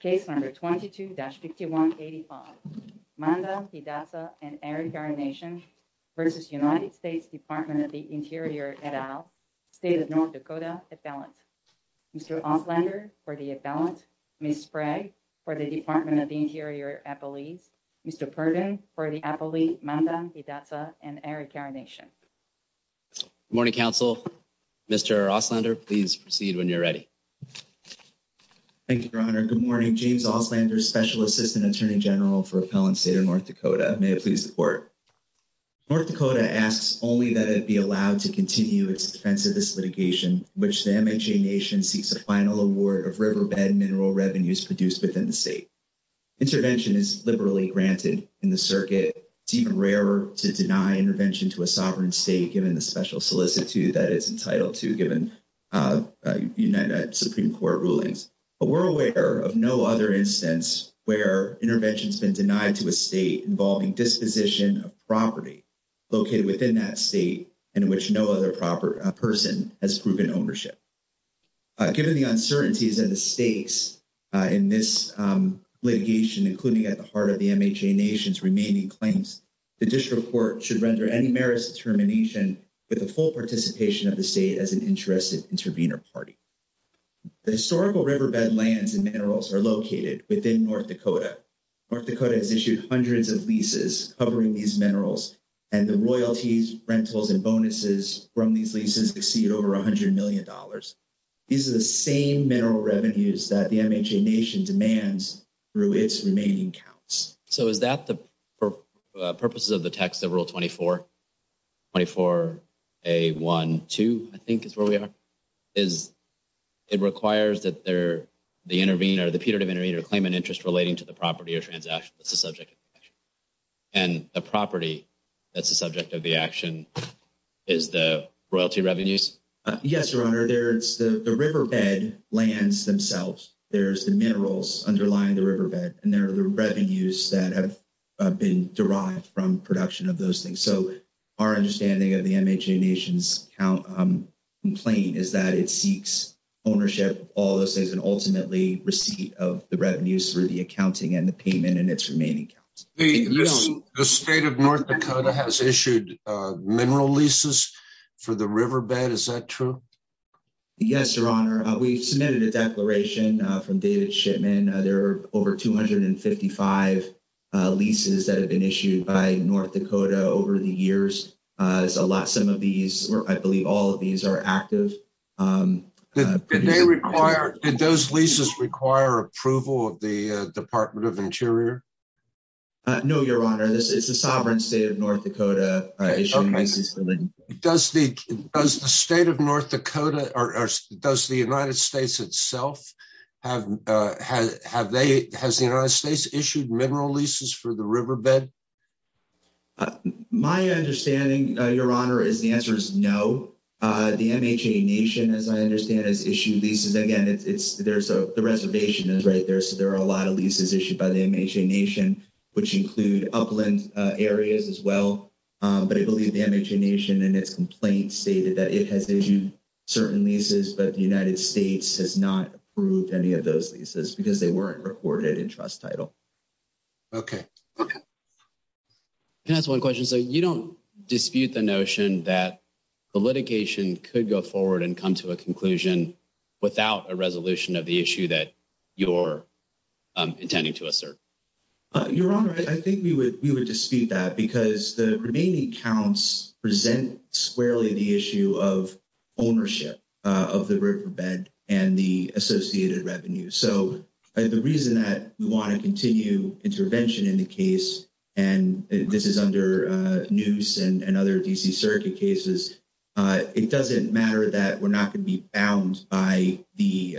Case number 22-6185, Mandan, Hidatsa and Arikara Nation versus United States Department of the Interior, et al., State of North Dakota, Appellant. Mr. Ostlander for the Appellant, Ms. Sprague for the Department of the Interior, Appellee. Mr. Perkins for the Appellee, Mandan, Hidatsa and Arikara Nation. Good morning, Council. Mr. Ostlander, please proceed when you're ready. Thank you, Your Honor. Good morning. James Ostlander, Special Assistant Attorney General for Appellant State of North Dakota. May I please report. North Dakota asks only that it be allowed to continue its defense of this litigation, which damaging nation seeks a final award of riverbed mineral revenues produced within the state. Intervention is liberally granted in the circuit. It is rare to deny intervention to a sovereign state given the special solicitude that it's entitled to given United Supreme Court rulings. But we're aware of no other instance where intervention has been denied to a state involving disposition of property located within that state in which no other person has proven ownership. Given the uncertainties and the stakes in this litigation, including at the heart of the nation, with the full participation of the state as an interested intervener party. The historical riverbed lands and minerals are located within North Dakota. North Dakota has issued hundreds of leases covering these minerals and the royalties, rentals and bonuses from these leases exceed over $100 million. These are the same mineral revenues that the MHA nation demands through its remaining counts. So is that the purposes of the text of Rule 24? A one, two, I think is where we are. Is it requires that they're the intervener, the peer to intervene or claim an interest relating to the property or transaction? And the property that's the subject of the action is the royalty revenues? Yes, your honor. There's the riverbed lands themselves. There's the minerals underlying the riverbed and there are the revenues that have been derived from production of those things. So our understanding of the MHA nation's complaint is that it seeks ownership of all those things and ultimately receipt of the revenues through the accounting and the payment and its remaining. The state of North Dakota has issued mineral leases for the riverbed. Is that true? Yes, your honor. We submitted a declaration from David Shipman. There are over 255 leases that have been issued by North Dakota over the years. I believe all of these are active. Did those leases require approval of the Department of Interior? No, your honor. It's the sovereign state of North Dakota. Does the state of North Dakota or does the United States itself, has the United States issued mineral leases for the riverbed? My understanding, your honor, is the answer is no. The MHA nation, as I understand, has issued leases. Again, the reservation is right there. So there are a lot of leases issued by the MHA nation, which include upland areas as well. But I believe the MHA nation and its complaints stated that it has issued certain leases, but the United States has not approved any of those leases because they weren't recorded in trust title. Okay. Okay. Can I ask one question? So you don't dispute the notion that the litigation could go forward and come to a conclusion without a resolution of the issue that you're intending to assert? Your honor, I think we would dispute that because the remaining counts present squarely the issue of ownership of the riverbed and the associated revenues. So the reason that we want to continue intervention in the case, and this is under Neuse and other D.C. circuit cases, it doesn't matter that we're not going to be bound by the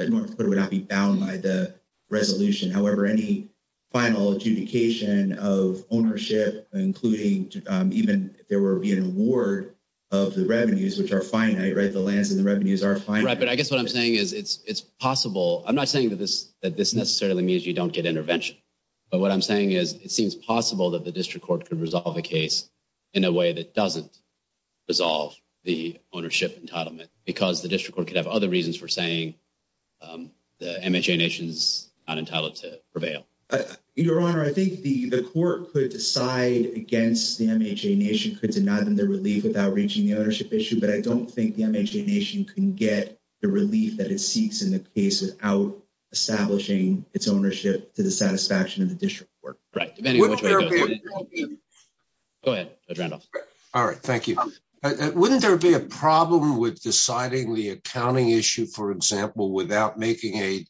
resolution. However, any final adjudication of ownership, including even there will be an award of the revenues, which are finite, right? The lands and the revenues are finite. But I guess what I'm saying is it's possible. I'm not saying that this necessarily means you don't get intervention. But what I'm saying is it seems possible that the district court could resolve the case in a way that doesn't resolve the ownership entitlement because the district court could have other reasons for saying the MHA nation's not entitled to prevail. Your honor, I think the court could decide against the MHA nation could deny them the relief without reaching the ownership issue. But I don't think the MHA nation can get the relief that it seeks in the case without establishing its ownership to the satisfaction of the district court. Right. Go ahead, Adriano. All right. Thank you. Wouldn't there be a problem with deciding the accounting issue, for example, without making a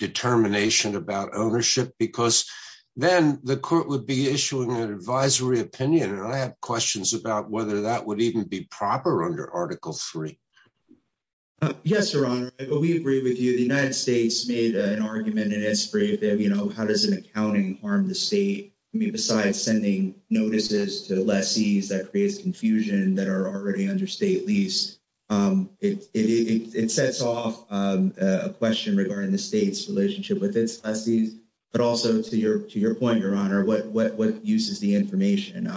determination about ownership? Because then the court would be issuing an advisory opinion. And I have questions about whether that would even be proper under Article 3. Yes, your honor, we agree with you. The United States made an argument and it's great that, you know, how does an accounting harm the state besides sending notices to lessees that create confusion that are already under state lease? It sets off a question regarding the state's relationship with its lessees. But also to your point, your honor, what use is the information?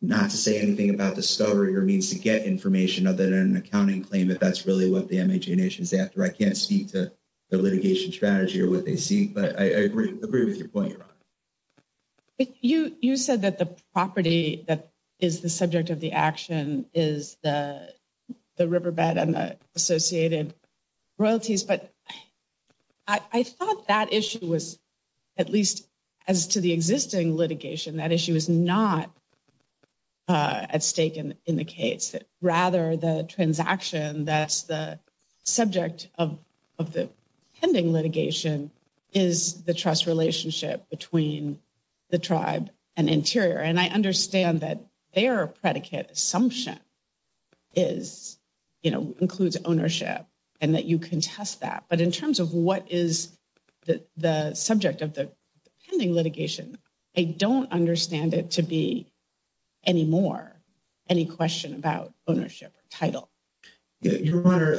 Not to say anything about the story or needs to get information other than an accounting claim, if that's really what the MHA nation is after. I can't speak to the litigation strategy or what they seek, but I agree with your point, your honor. You said that the property that is the subject of the action is the riverbed and the associated royalties. But I thought that issue was, at least as to the existing litigation, that issue is not at stake in the case. Rather, the transaction that's the subject of the pending litigation is the trust relationship between the tribe and Interior. And I understand that their predicate assumption is, you know, includes ownership and that you can test that. But in terms of what is the subject of the pending litigation, I don't understand it to be anymore any question about ownership or title. Yeah, your honor,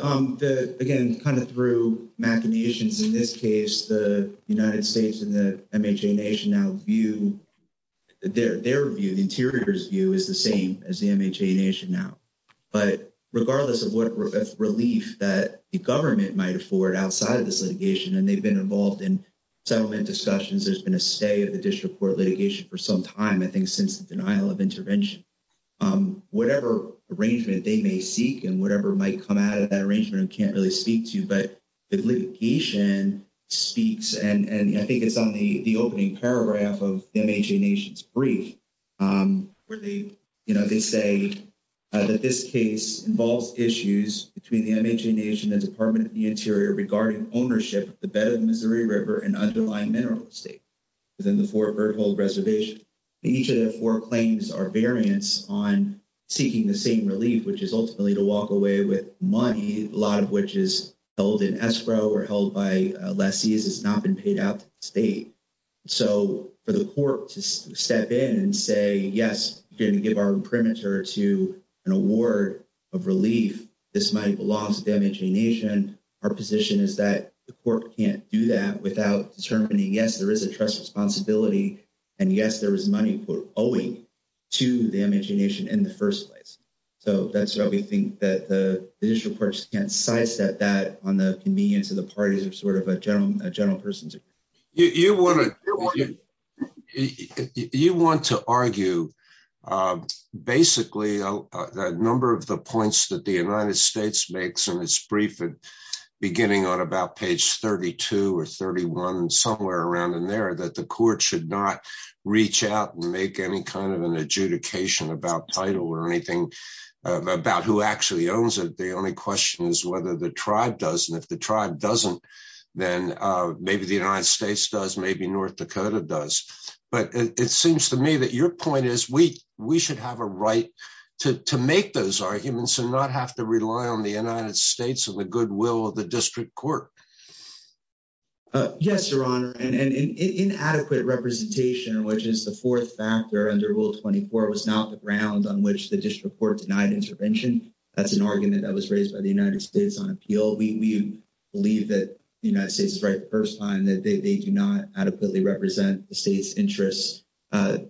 again, kind of through machinations in this case, the United States and the MHA nation now view, their view, the Interior's view is the same as the MHA nation now. But regardless of what relief that the government might afford outside of this litigation, and they've been involved in settlement discussions, there's been a say of the district court litigation for some time, I think since the denial of intervention. Whatever arrangement they may seek and whatever might come out of that arrangement, I can't really speak to, but litigation speaks, and I think it's on the opening paragraph of the MHA nation's brief, where they, you know, they say that this case involves issues between the MHA nation and Department of the Interior regarding ownership of the bed Missouri River and underlying mineral estate within the Fort Berthold reservation. Each of the four claims are variants on seeking the same relief, which is ultimately to walk away with money, a lot of which is held in escrow or held by lessees, has not been paid out to the state. So for the court to step in and say, yes, you're going to give our imprimatur to an award of relief, this money belongs to the MHA nation. Our position is that the court can't do that without determining, yes, there is a trust responsibility, and yes, there is money for owing to the MHA nation in the first place. So that's why we think that the district courts can't sidestep that on the convenience of the parties of sort of a general person's opinion. You want to argue, basically, a number of the points that the United States makes in its brief and beginning on about page 32 or 31 and somewhere around in there that the court should not reach out and make any kind of an adjudication about title or anything about who actually owns it. The only question is whether the tribe does, and if the tribe doesn't, then maybe the United States does, maybe North Dakota does. But it seems to me that your point is we should have a right to make those arguments and not have rely on the United States or the goodwill of the district court. Yes, Your Honor, and inadequate representation, which is the fourth factor under Rule 24, was not the ground on which the district court denied intervention. That's an argument that was raised by the United States on appeal. We believe that the United States is right the first time that they do not adequately represent the state's interests.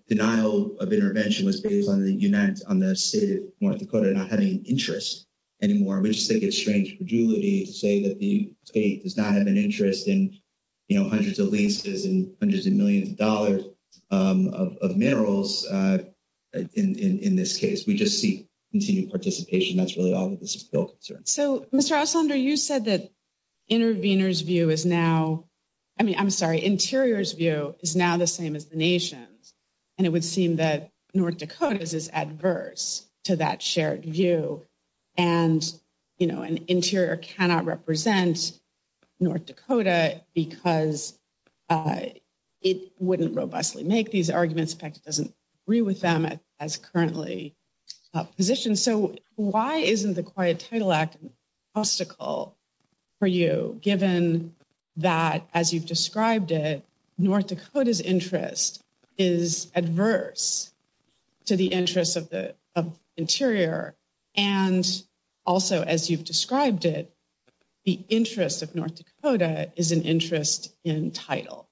Denial of intervention was based on the state of North Dakota not having an interest anymore. We just think it's strange for Julie to say that the state does not have an interest in, you know, hundreds of leases and hundreds of millions of dollars of minerals in this case. We just seek continued participation. That's really all that this bill concerns. So, Mr. Oslander, you said that intervener's view is now, I mean, I'm sorry, interior's view is now the same as the nation's, and it would seem that North Dakota's is adverse to that shared view. And, you know, an interior cannot represent North Dakota because it wouldn't robustly make these arguments, in fact, it doesn't agree with them as currently positioned. So, why isn't the Quiet Title Act an obstacle for you, given that, as you've described it, North Dakota's interest is adverse to the interest of the interior, and also, as you've described it, the interest of North Dakota is an interest in title?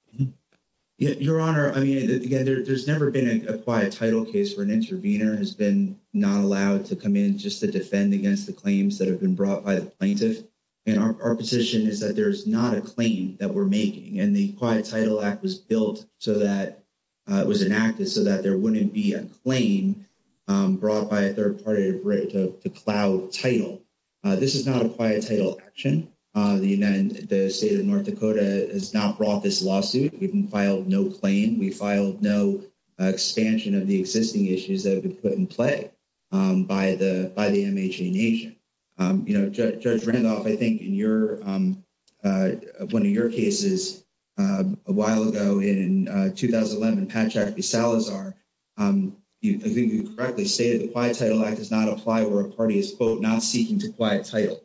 Your Honor, I mean, there's never been a quiet title case where an intervener has been not allowed to come in just to defend against the claims that have been brought by the plaintiff. And our position is that there's not a claim that we're making, and the Quiet Title Act was built so that, it was enacted so that there wouldn't be a claim brought by a third-party to cloud title. This is not a quiet title action. The United States of North Dakota has not brought this lawsuit. We filed no claim. We filed no expansion of the existing issues that have been put in play by the MHNA agent. You know, Judge Randolph, I think in your, one of your cases a while ago in 2011, Contract v. Salazar, you correctly stated the Quiet Title Act does not apply where a party is, quote, not seeking to quiet title,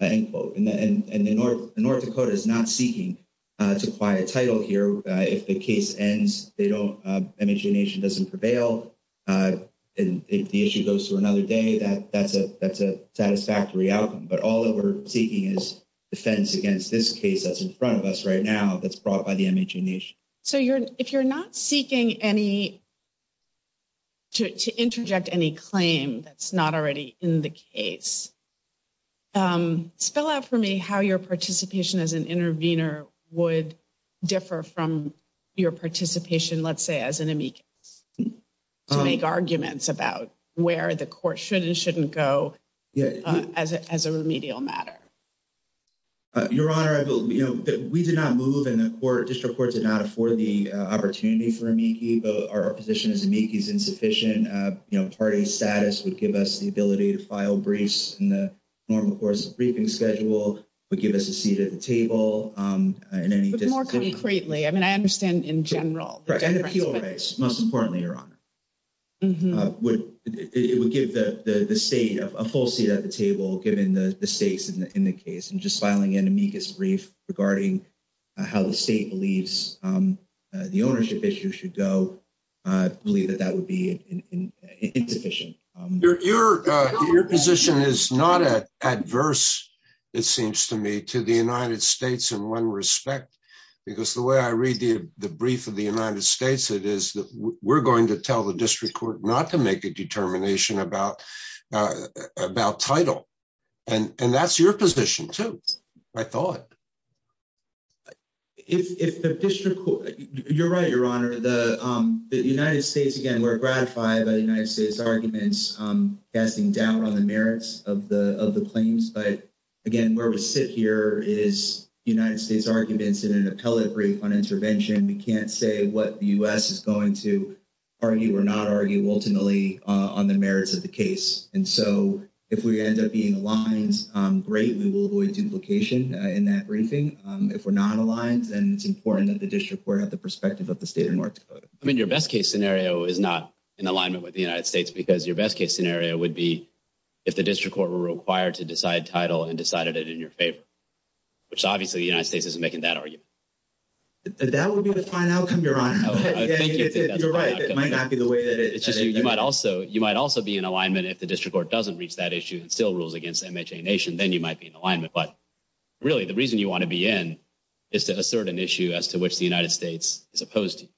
end quote. And North Dakota is not seeking to quiet title here. If the case ends, they don't, MHNA agent doesn't prevail, and if the issue goes to another day, that's a satisfactory outcome. But all that we're seeking is a sentence against this case that's in front of us right now that's brought by the MHNA agent. So you're, if you're not seeking any, to interject any claim that's not already in the case, spell out for me how your participation as an intervener would differ from your participation, let's say, as an amici to make arguments about where the court should and shouldn't go as a remedial matter. Your Honor, I believe, you know, we did not move and the court, district court, did not afford the opportunity for amici, but our position as amici is insufficient. You know, party status would give us the ability to file briefs in the form, of course, the briefing schedule would give us a full seat at the table. But more concretely, I mean, I understand in general. Most importantly, Your Honor, it would give the state a full seat at the table, given the stakes in the case, and just filing an amicus brief regarding how the state believes the ownership issue should go, I believe that that would be insufficient. Your position is not adverse, it seems to me, to the United States in one respect, because the way I read the brief of the United States, it is that we're going to tell the district court not to make a determination about title. And that's your position too, I thought. If the district court, you're right, Your Honor, the United States, again, we're gratified that the United States argument is casting doubt on the merits of the claims, but again, where we sit here is the United States arguments in an appellate brief on intervention, we can't say what the U.S. is going to argue or not argue ultimately on the merits of the case. And so if we end up being aligned, great, we will avoid duplication in that briefing. If we're not aligned, then it's important that the district court have the perspective of the state of Newark to vote. I mean, your best case scenario is not in alignment with the United States because your best case scenario would be if the district court were required to decide title and decided it in your favor, which obviously the United States isn't making that argument. That would be the fine outcome, Your Honor. You're right, it might not be the way that it is. You might also be in alignment if the district court doesn't reach that issue and still rules against MHA Nation, then you might be in alignment. But really, the reason you want to be in is to which the United States is opposed to.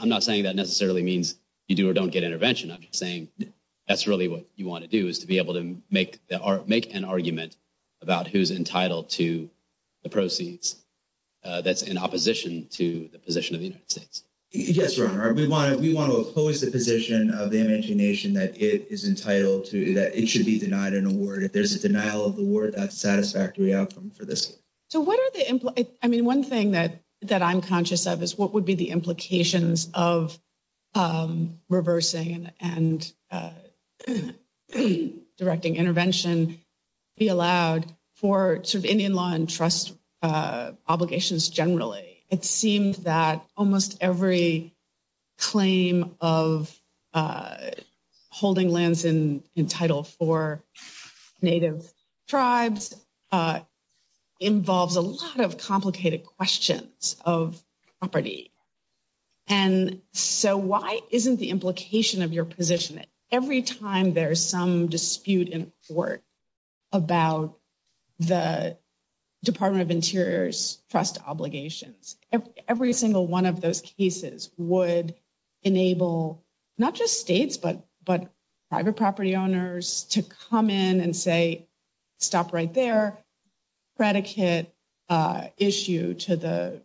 I'm not saying that necessarily means you do or don't get intervention. I'm just saying that's really what you want to do is to be able to make an argument about who's entitled to the proceeds that's in opposition to the position of the United States. Yes, Your Honor. We want to oppose the position of the MHA Nation that it is entitled to, that it should be denied an award. If there's a denial of the award, that's a satisfactory outcome for this case. So what are the... I mean, one thing that I'm conscious of is what would be the implications of reversing and directing intervention be allowed for Indian law and trust obligations generally. It seems that almost every claim of holding lands in title for Native tribes involves a lot of complicated questions of property. And so why isn't the implication of your position, every time there's some dispute in court about the Department of Interior's trust obligations, every single one of those cases would enable not just states, but private property owners to come in and say, stop right there. Predicate issue to the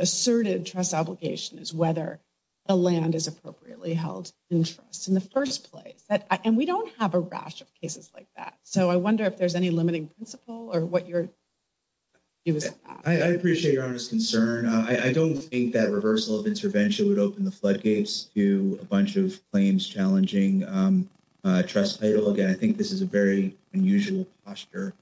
asserted trust obligation is whether the land is appropriately held in trust in the first place. And we don't have a rash of cases like that. So I wonder if there's any limiting principle or what you're... I appreciate your honest concern. I don't think that reversal of intervention would open the floodgates to a bunch of claims challenging trust title. Again, I think this is a very unusual posture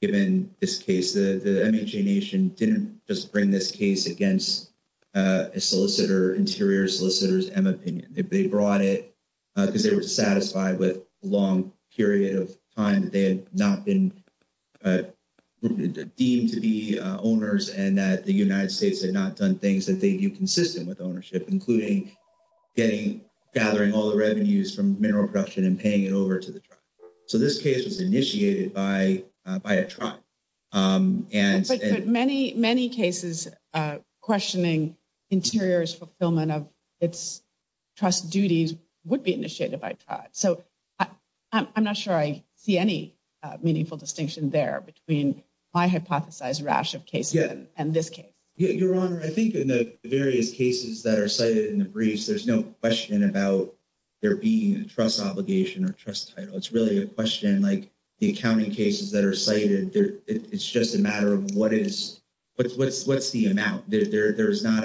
given this case. The MHA Nation didn't just bring this case against a solicitor, Interior solicitor's M opinion. They brought it because they were satisfied with long period of time that they had not been deemed to be owners and that the United States had not done things that they viewed consistent with ownership, including gathering all the revenues from mineral production and paying it over to the tribe. So this case was initiated by a tribe. But many cases questioning Interior's fulfillment of its trust duties would be I'm not sure I see any meaningful distinction there between my hypothesized rash of cases and this case. Your Honor, I think in the various cases that are cited in the briefs, there's no question about there being a trust obligation or trust title. It's really a question like the accounting cases that are cited. It's just a matter of what's the amount. There's not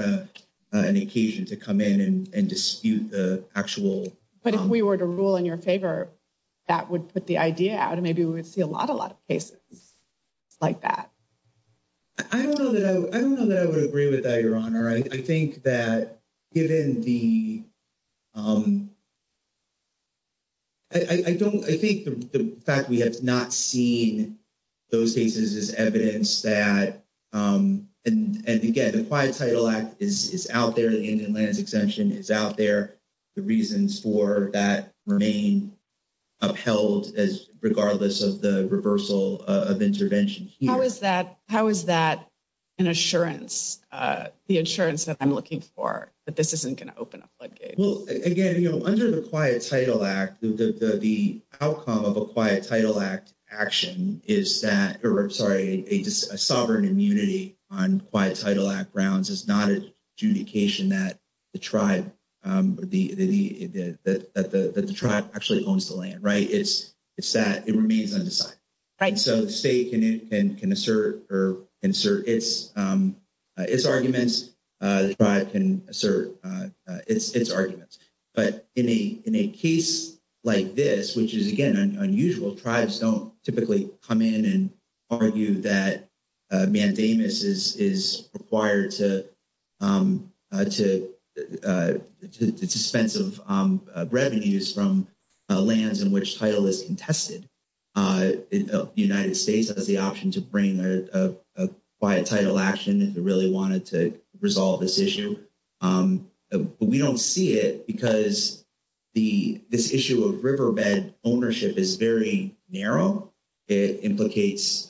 an occasion to come in and dispute the actual... But if we were to rule in your favor, that would put the idea out and maybe we would see a lot of cases like that. I don't know that I would agree with that, Your Honor. I think that given the... I think the fact we have not seen those cases is evidence that... And again, the Quiet Title Act is out there. The Indian land exemption is out there. The reasons for that remain upheld as regardless of the reversal of intervention here. How is that an assurance, the assurance that I'm looking for that this isn't going to open a floodgate? Well, again, under the Quiet Title Act, the outcome of a Quiet Title Act action is that... Sorry, a sovereign immunity on Quiet Title Act grounds is not an adjudication that the tribe actually owns the land, right? It's that it remains undecided. And so the state can assert or insert its arguments. The tribe can assert its arguments. But in a case like this, which is, again, unusual, tribes don't typically come in and argue that mandamus is required to dispense of revenues from lands in which title is contested. The United States has the option to bring a Quiet Title Action if they really wanted to resolve this issue. But we don't see it because this issue of riverbed ownership is very narrow. It implicates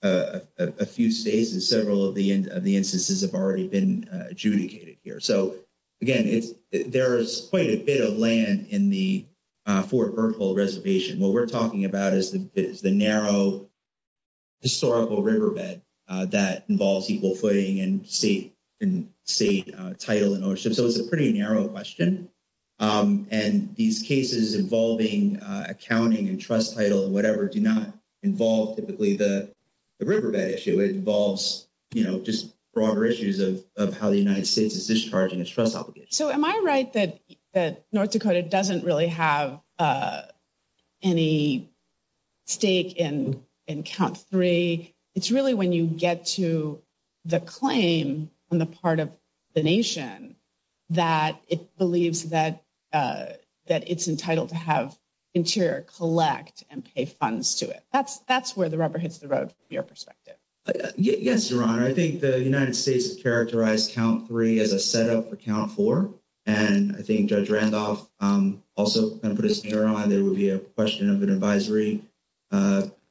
a few states and several of the instances have already been adjudicated here. So, again, there is quite a bit of land in the Fort Berthold Reservation. What we're talking about is the narrow historical riverbed that involves equal footing and state title and ownership. So it's a pretty narrow question. And these cases involving accounting and trust title do not involve typically the riverbed issue. It involves just broader issues of how the United States is discharging its trust obligation. So am I right that North Dakota doesn't really have any stake in Trump III? It's really when you get to the claim on the part of the nation that it believes that it's entitled to have Interior collect and pay funds to it. That's where the rubber hits the road from your perspective. Yes, Your Honor. I think the United States has characterized Count III as a setup for Count IV. And I think Judge Randolph also kind of put his finger on it. It would be a question of an advisory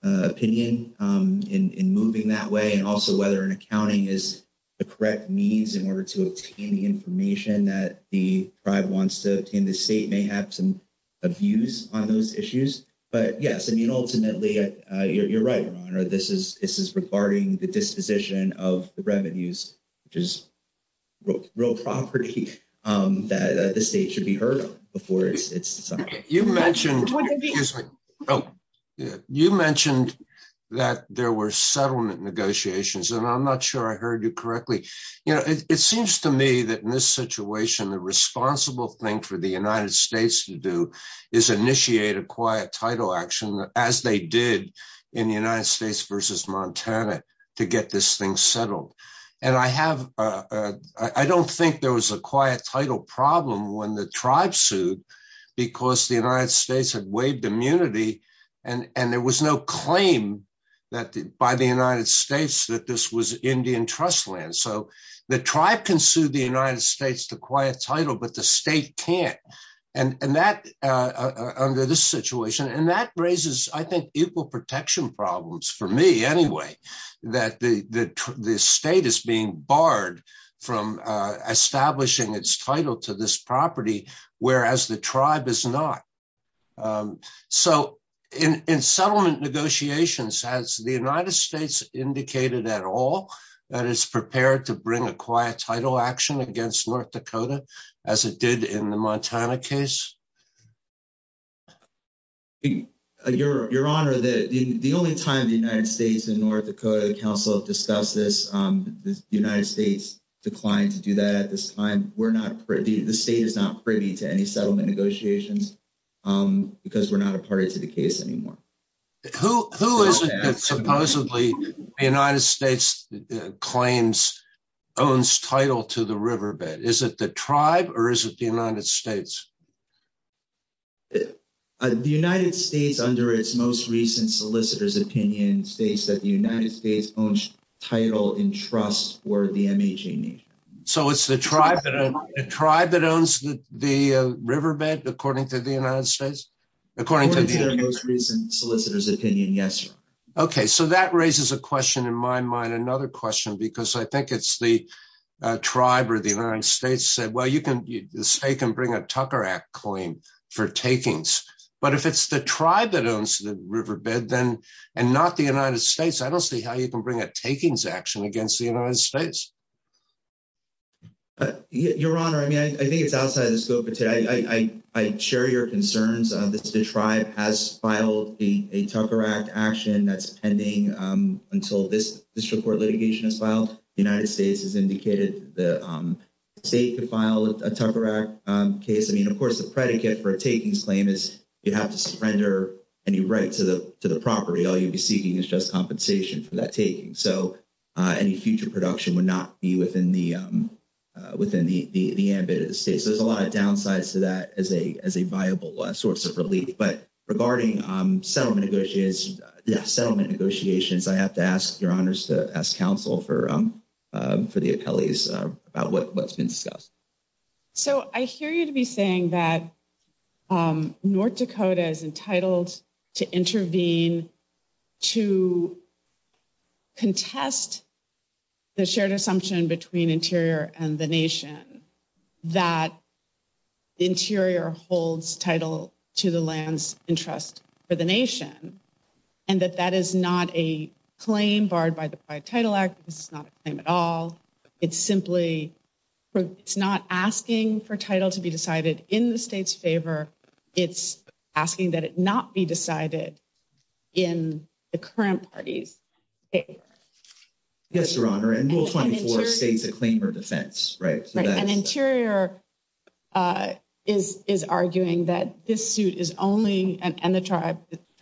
opinion in moving that way and also whether an accounting is the correct means in order to obtain the information that the tribe wants to obtain. The state may have some abuse on those issues. But yes, I mean, ultimately, you're right, Your Honor. This is regarding the disposition of the revenues, which is real property that the state should be heard on before it's decided. You mentioned that there were settlement negotiations, and I'm not sure I heard you correctly. You know, it seems to me that in this situation, the responsible thing for the United States to do is initiate a quiet title action, as they did in the United States versus Montana, to get this thing settled. And I don't think there was a quiet title problem when the tribe sued, because the United States had waived immunity. And there was no claim that by the United States that this was Indian trust land. So the tribe can sue the United States to quiet title, but the state can't. And that under this situation, and that raises, I think, equal protection problems for me anyway, that the state is being barred from establishing its title to this property, whereas the tribe is not. So in settlement negotiations, has the United States indicated at all that it's prepared to bring a quiet title action against North Dakota, as it did in the Montana case? Your Honor, the only time the United States and North Dakota Council have discussed this, the United States declined to do that at this time. We're not privy, the state is not privy to any settlement negotiations, because we're not a party to the case anymore. Who is it that supposedly the United States claims owns title to the riverbed? Is it the tribe, or is it the United States? The United States, under its most recent solicitor's opinion, states that the United States owns title in trust for the MH&E. So it's the tribe that owns the riverbed, according to the United States? According to the most recent solicitor's opinion, yes. Okay, so that raises a question in my mind, another question, because I think it's the tribe or the United States said, well, you can, the state can bring a Tucker Act claim for takings. But if it's the tribe that owns the riverbed, then, and not the United States, I don't see how you can bring a takings action against the United States. Your Honor, I mean, I think it's outside the scope of today. I share your concerns. The tribe has filed a Tucker Act action that's pending until this district court litigation is filed. The United States has indicated that the state could file a Tucker Act case. I mean, of course, the predicate for a takings claim is you have to suspender any right to the property. All you'd be seeking is just compensation for that taking. So any future production would not be within the ambit of the state. So there's a lot of downsides to that as a viable source of relief. But regarding settlement negotiations, I have to ask, Your Honor, to ask counsel for for the attellies about what's been discussed. So I hear you to be saying that North Dakota is entitled to intervene to contest the shared assumption between Interior and the nation that Interior holds title to the land's interest for the nation. And that that is not a claim barred by the Title Act. It's not a claim at all. It's simply it's not asking for title to be decided in the state's favor. It's asking that it not be decided in the current party's favor. Yes, Your Honor, and Rule 24 states a claim for defense, right? And Interior is arguing that this suit is only, and the tribe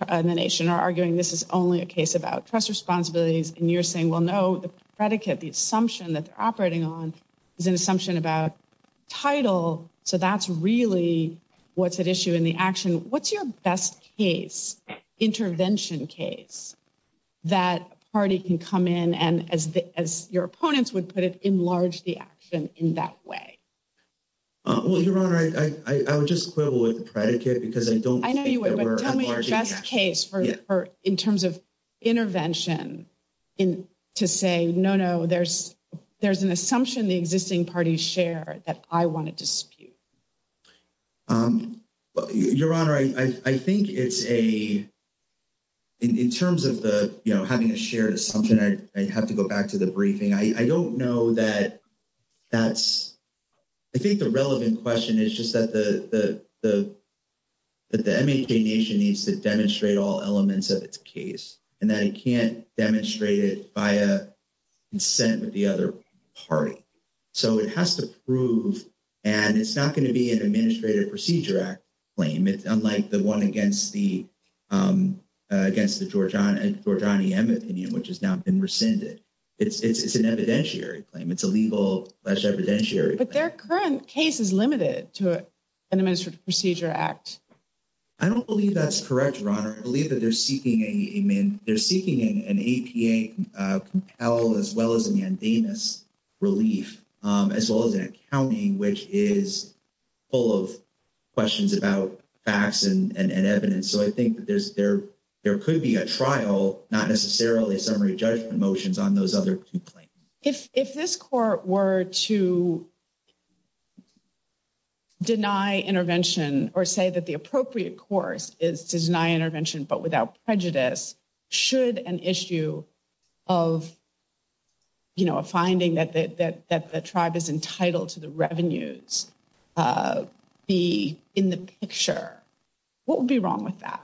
and the nation are arguing this is only a case about trust responsibilities. And you're saying, well, no, the predicate, the assumption that's operating on is an assumption about title. So that's really what's at issue in the action. What's your best case, intervention case, that party can come in and, as your opponents would put it, enlarge the action in that way? Well, Your Honor, I would just quibble with predicate because I don't think that we're enlarging the action. I know you would, but tell me a best case in terms of intervention to say, no, no, there's an assumption the existing parties share that I want to dispute. Well, Your Honor, I think it's a, in terms of the, you know, having a shared assumption, I'd have to go back to the briefing. I don't know that that's, I think the relevant question is just that the MNK nation needs to demonstrate all elements of its case, and that it can't demonstrate it by a dissent with the other party. So it has to prove, and it's not going to be an Administrative Procedure Act claim. It's unlike the one against the, against the Georgiani M opinion, which has now been rescinded. It's an evidentiary claim. It's a legal, it's evidentiary. But their current case is limited to an Administrative Procedure Act. I don't believe that's correct, Your Honor. I believe that they're seeking a main, they're seeking an APA compel, as well as a mandamus relief, as well as an accounting, which is full of questions about facts and evidence. So I think that there could be a trial, not necessarily a summary judgment motions on those other complaints. If, if this court were to deny intervention, or say that the appropriate course is to deny intervention, but without prejudice, should an issue of, you know, a finding that the, that the tribe is entitled to the revenues, the, in the picture, what would be wrong with that?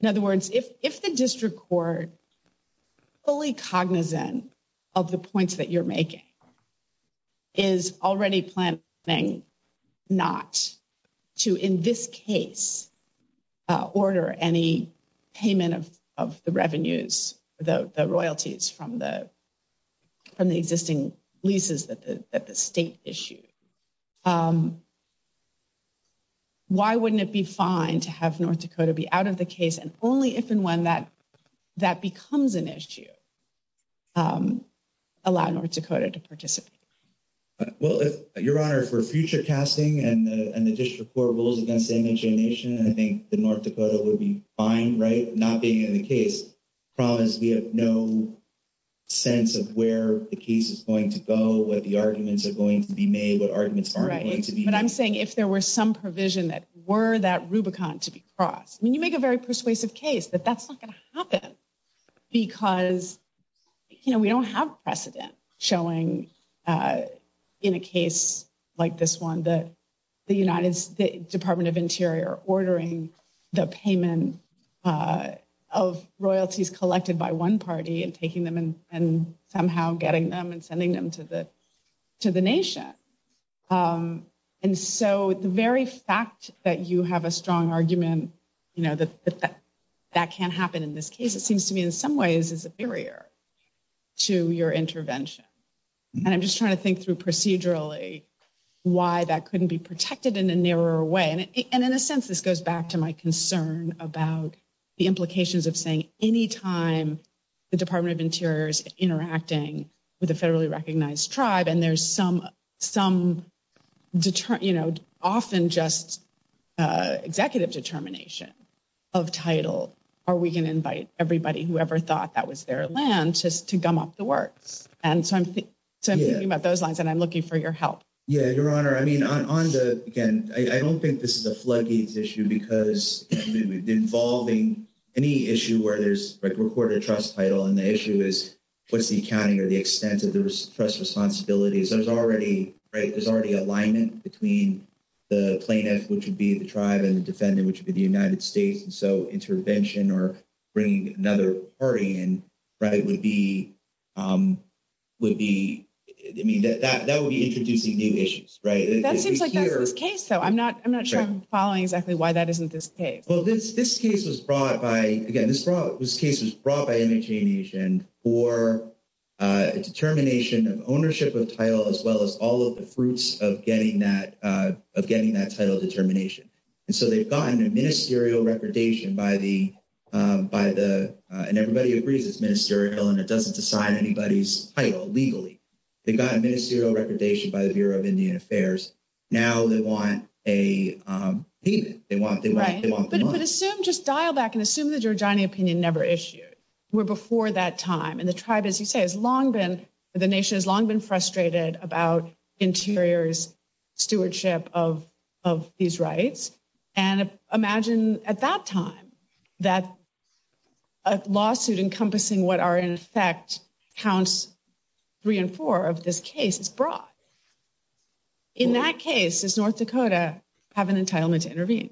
In other words, if, if the district court, fully cognizant of the points that you're making, is already planning not to, in this case, order any payment of the revenues, the royalties from the, from the existing leases that the state issued, why wouldn't it be fine to have North Dakota be out of the case, and only if and when that, that becomes an issue, allow North Dakota to participate? Well, Your Honor, for future casting and the district court rules against the NHA Nation, I think the North Dakota would be fine, right, not being in the case. Problem is we have no sense of where the case is going to go, what the arguments are going to be made, what arguments are going to be made. But I'm saying if there were some provision that were that Rubicon to be crossed, I mean, you make a very persuasive case, but that's not going to happen. Because, you know, we don't have precedent showing, in a case like this one, that the United, the Department of Interior ordering the payment of royalties collected by one party, and somehow getting them and sending them to the Nation. And so the very fact that you have a strong argument, you know, that that can't happen in this case, it seems to me in some ways is superior to your intervention. And I'm just trying to think through procedurally why that couldn't be protected in a narrower way. And in a sense, this goes back to my concern about the implications of saying anytime the Department of Interior is interacting with a federally recognized tribe, and there's some, some, you know, often just executive determination of title, or we can invite everybody who ever thought that was their land just to gum up the works. And so I'm thinking about those lines, and I'm looking for your help. Yeah, Your Honor, I mean, on the, again, I don't think this is a floodgates issue because we've been involving any issue where there's, like, reported trust title, and the issue is what's the accounting or the extent of those trust responsibilities. There's already, right, there's already alignment between the plaintiff, which would be the tribe, and the defendant, which would be the United States. And so intervention or bringing another party in, right, would be, would be, I mean, that would be introducing new issues, right? That seems like a good case, though. I'm not, I'm not sure I'm following exactly why that isn't this case. Well, this case was brought by, again, this case was brought by Imagination for a determination of ownership of title, as well as all of the fruits of getting that, of getting that title determination. And so they've gotten a ministerial repudiation by the, by the, and everybody agrees it's ministerial, and it doesn't decide anybody's title legally. They got a ministerial repudiation by the Bureau of Indian Affairs. Now they want a, they want, they want, they want the money. But if we could assume, just dial back and assume the Giordani opinion never issued, were before that time, and the tribe, as you say, has long been, the nation has long been frustrated about Interior's stewardship of, of these rights. And imagine at that time that a lawsuit encompassing what are, in effect, counts three and four of this case is brought. In that case, does North Dakota have an entitlement to intervene?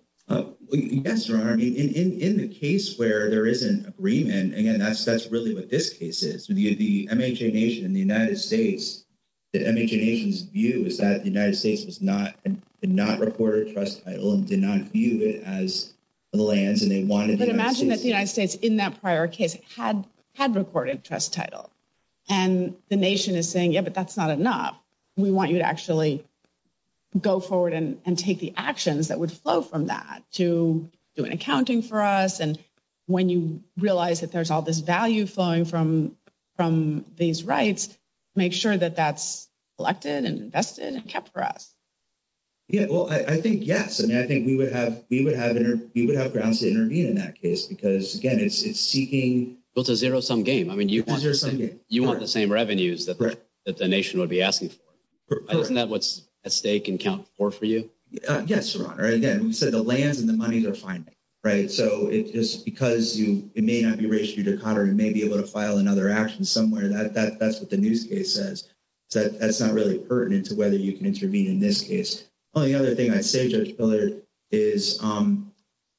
Yes, Your Honor. I mean, in, in, in the case where there is an agreement, again, that's, that's really what this case is. Via the MHNA Nation in the United States, the MHNA Nation's view is that the United States was not, did not record a trust title and did not view it as a land, and they wanted to... But imagine that the United States, in that prior case, had, had recorded a trust title. And the nation is saying, yeah, but that's not enough. We want you to actually go forward and, and take the actions that would flow from that to doing accounting for us. And when you realize that there's all this value flowing from, from these rights, make sure that that's collected and invested and kept for us. Yeah, well, I, I think, yes. I mean, I think we would have, we would have, we would have grounds to intervene in that case because, again, it's, it's seeking... Well, it's a zero-sum game. I mean, you... A zero-sum game. You want the same revenues that... ...that the nation would be asking for. Correct. Isn't that what's at stake in count four for you? Yes, Your Honor. Again, so the land and the money they're finding, right, so it's just because you, it may not be ratioed to Connor, it may be able to file another action somewhere. That, that, that's what the news case says. So that, that's not pertinent to whether you can intervene in this case. Well, the other thing I say, Judge Pillard, is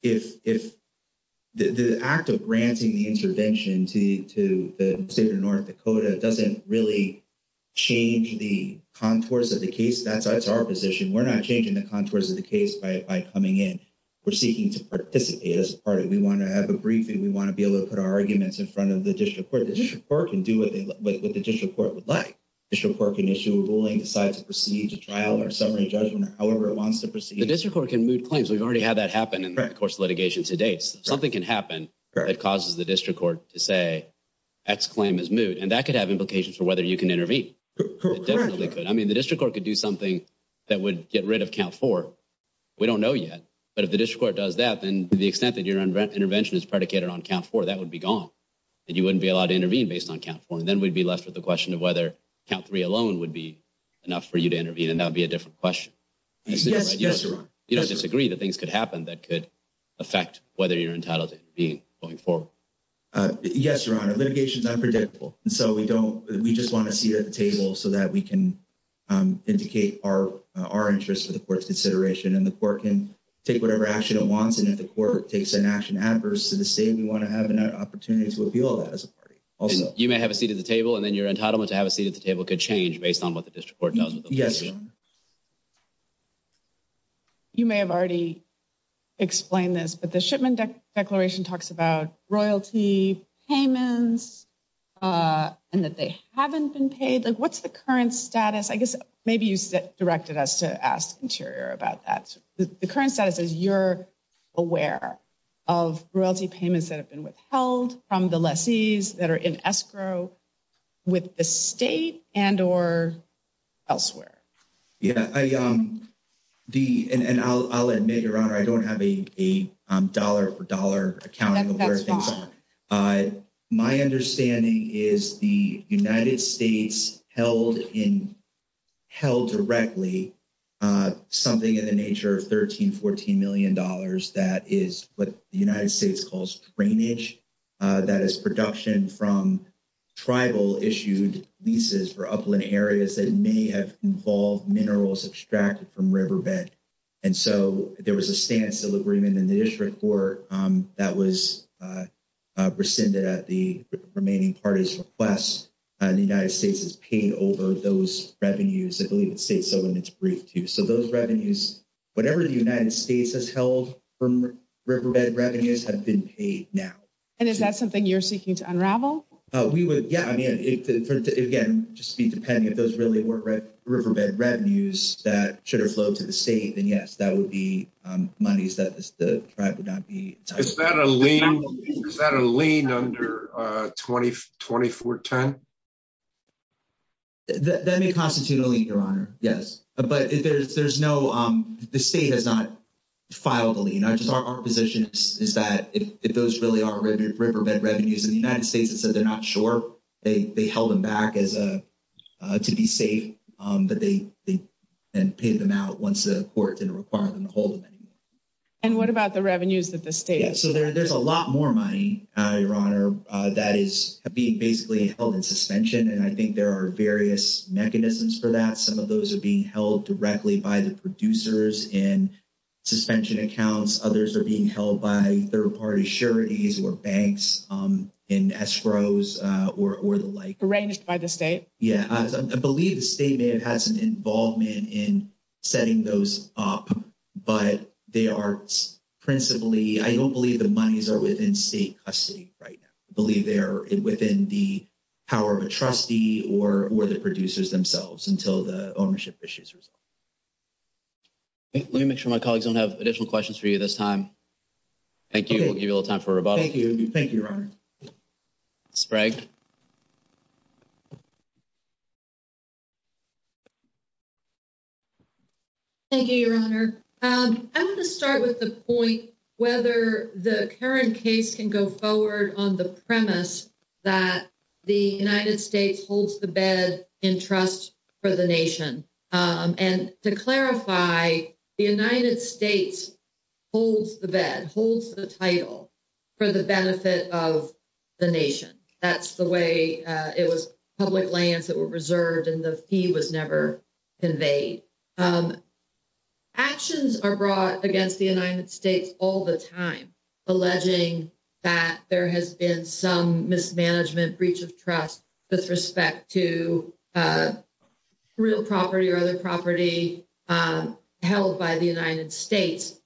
if, if the act of granting the intervention to, to the state of North Dakota doesn't really change the contours of the case, that's, that's our position. We're not changing the contours of the case by, by coming in. We're seeking to participate as a party. We want to have a briefing. We want to be able to put our arguments in front of the district court. The district court can do what the district court would like. The district court can issue a ruling, decide to proceed to trial, or submit a judgment, or however it wants to proceed. The district court can moot claims. We've already had that happen in the course of litigation to date. Something can happen that causes the district court to say X claim is moot, and that could have implications for whether you can intervene. It definitely could. I mean, the district court could do something that would get rid of count four. We don't know yet, but if the district court does that, then the extent that your intervention is predicated on count four, that would be gone, and you wouldn't be allowed to intervene based on count four. Then we'd be left with the question of whether count three alone would be enough for you to intervene, and that would be a different question. Yes, Your Honor. Do you disagree that things could happen that could affect whether you're entitled to intervene going forward? Yes, Your Honor. Litigation's unpredictable, and so we don't, we just want to see it at the table so that we can indicate our, our interest to the court's consideration, and the court can take whatever action it wants, and if the court takes an action adverse to the you want to have an opportunity to appeal that as a party. You may have a seat at the table, and then your entitlement to have a seat at the table could change based on what the district court does. Yes, Your Honor. You may have already explained this, but the shipment declaration talks about royalty payments, and that they haven't been paid. Like, what's the current status? I guess maybe you directed us to ask Interior about that. The current status is you're aware of royalty payments that have been withheld from the lessees that are in escrow with the state and or elsewhere. Yeah, I, the, and I'll, I'll admit, Your Honor, I don't have a, a dollar for dollar account. That's fine. My understanding is the United States held in, held directly something in the nature of 13, 14 million dollars that is what the United States calls drainage. That is production from tribal issued leases for upland areas that many have involved minerals extracted from riverbed, and so there was a stance delivered in the district court that was rescinded at the remaining party's request. The United States has paid over those revenues. I agree with you. So those revenues, whatever the United States has held from riverbed revenues, have been paid now. And is that something you're seeking to unravel? Oh, we would, yeah, I mean, again, just be dependent. Those really weren't riverbed revenues that should have flowed to the state, and yes, that would be monies that the tribe would not be. Is that a lien, under 2024-10? That may constitute a lien, Your Honor, yes, but there's, there's no, the state has not filed a lien. Our position is that if those really are riverbed revenues in the United States, it says they're not sure. They, they held them back as a, to be safe, that they, and paid them out once the court didn't require them to hold them anymore. And what about the revenues that the state? Yeah, so there's a lot more money, Your Honor, that is being basically held in suspension, and I think there are various mechanisms for that. Some of those are being held directly by the producers in suspension accounts. Others are being held by third-party charities or banks and escrows or the like. Arranged by the state? Yeah, I believe the state may have had some involvement in setting those up, but they are principally, I don't believe the monies are within state custody right now. I believe they are within the power of a trustee or the producers themselves until the ownership issue is resolved. Let me make sure my colleagues don't have additional questions for you this time. Thank you. We'll give you a little time for questions. Thank you, Your Honor. I want to start with the point whether the current case can go forward on the premise that the United States holds the bed in trust for the nation. And to clarify, the United States holds the bed, holds the title for the benefit of the nation. That's the way it was public lands that were reserved and the fee was never conveyed. Actions are brought against the United States all the time, alleging that there has been some mismanagement, breach of trust with respect to real property or other property held by the United States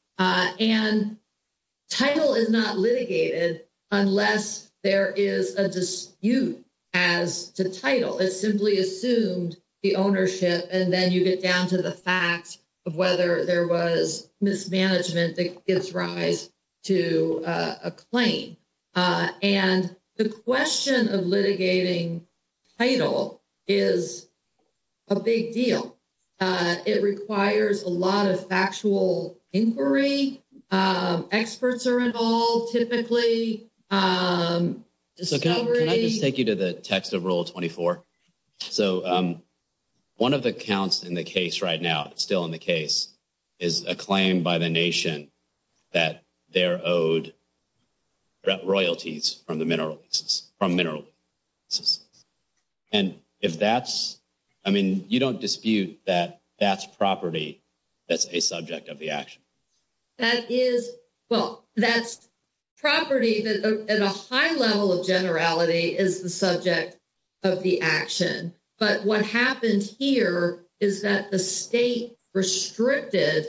as to title. It simply assumes the ownership and then you get down to the fact of whether there was mismanagement that gives rise to a claim. And the question of litigating title is a big deal. It requires a lot of factual inquiry. Experts are involved typically. So, can I just take you to the text of Rule 24? So, one of the counts in the case right now, still in the case, is a claim by the nation that they're owed royalties from minerals. And if that's, I mean, you don't dispute that that's property that's a subject of the action. That is, well, that's property that at a high level of generality is the subject of the action. But what happens here is that the state restricted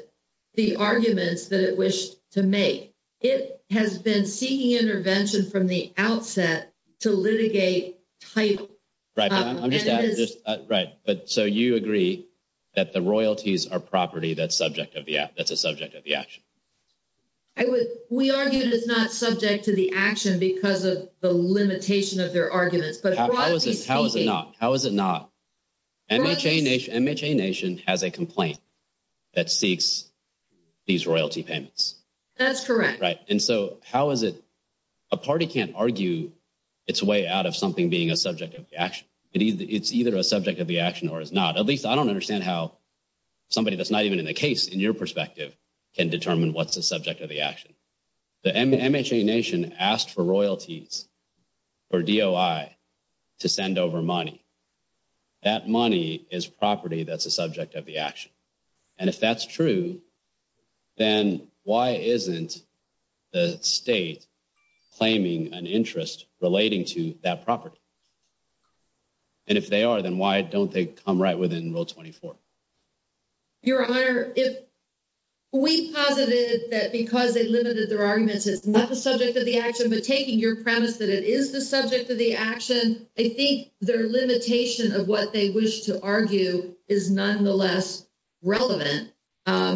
the arguments that it wished to make. It has been seeking intervention from the outset to litigate title. Right. So, you agree that the royalties are property that's a subject of the action. We argue that it's not subject to the action because of the limitation of their arguments. How is it not? How is it not? MHA nation has a complaint that seeks these royalty payments. That's correct. And so, how is it a party can't argue its way out of something being a subject of the action? It's either a subject of the action or it's not. At least, I don't understand how somebody that's not even in the case, in your perspective, can determine what's the subject of the action. The MHA nation asked for royalties for DOI to send over money. That money is property that's a subject of the action. And if that's true, then why isn't the state claiming an interest relating to that property? And if they are, then why don't they come right within Rule 24? Your Honor, if we posited that because they limited their arguments, it's not the subject of the action, but taking your premise that it is the subject of the action, I think their limitation of what they wish to argue is nonetheless relevant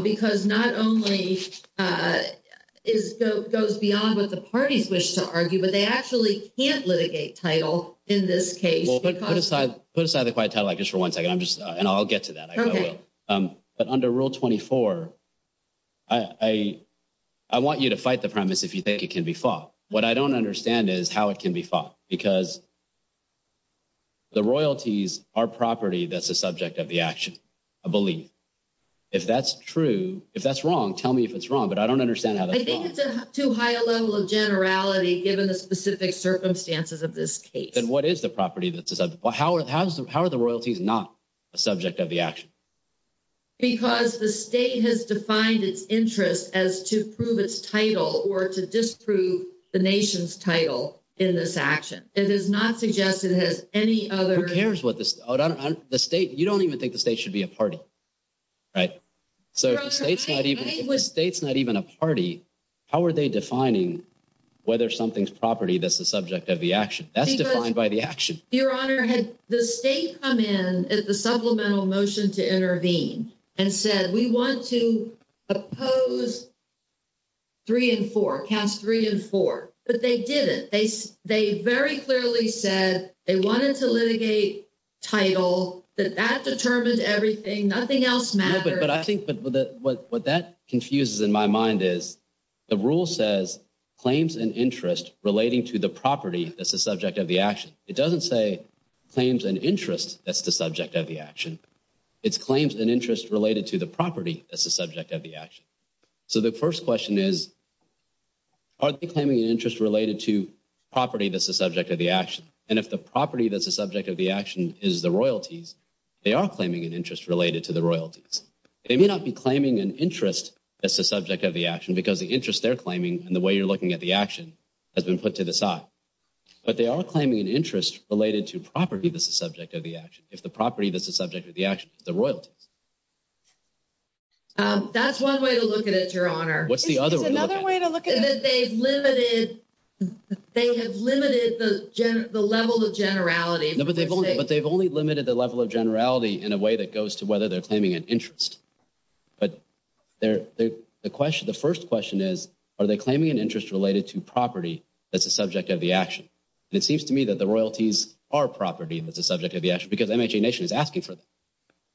because not only it goes beyond what the parties wish to argue, but they actually can't litigate title in this case. Well, put aside the quiet title just for one second. And I'll get to that. Okay. But under Rule 24, I want you to fight the premise if you think it can be fought. What I don't understand is how it can be fought because the royalties are property that's a subject of the action, I believe. If that's true, if that's wrong, tell me if it's wrong, but I don't understand how that's wrong. I think it's a too high level of generality given the specific circumstances of this case. Then what is the property that's a subject? How are the royalties not a subject of the action? Because the state has defined its interest as to prove its title or to disprove the nation's title in this action. It is not suggested that any other... Who cares what the state... You don't even think the state should be a party, right? So if the state's not even a party, how are they defining whether something's property that's the subject of the action? That's defined by the action. Your Honor, the state come in as a supplemental motion to intervene and said, we want to oppose three and four, count three and four, but they didn't. They very clearly said they wanted to litigate title, but that determines everything. Nothing else matters. But I think what that confuses in my mind is the rule says claims and interest relating to the property that's the subject of the action. It doesn't say claims and interest that's the subject of the action. So the first question is, are they claiming an interest related to property that's the subject of the action? And if the property that's the subject of the action is the royalties, they are claiming an interest related to the royalties. They may not be claiming an interest that's the subject of the action because the interest they're claiming and the way you're looking at the action has been put to the side. But they are claiming an interest related to property that's the subject of the action. If the property that's the subject of the action is the royalty. That's one way to look at it, Your Honor. What's the other way to look at it? Another way to look at it is they've limited, they have limited the level of generality. But they've only limited the level of generality in a way that goes to whether they're claiming an interest. But the first question is, are they claiming an interest related to property that's the subject of the action? It seems to me that the royalties are property that's the subject of the action because MHA Nation is asking for them.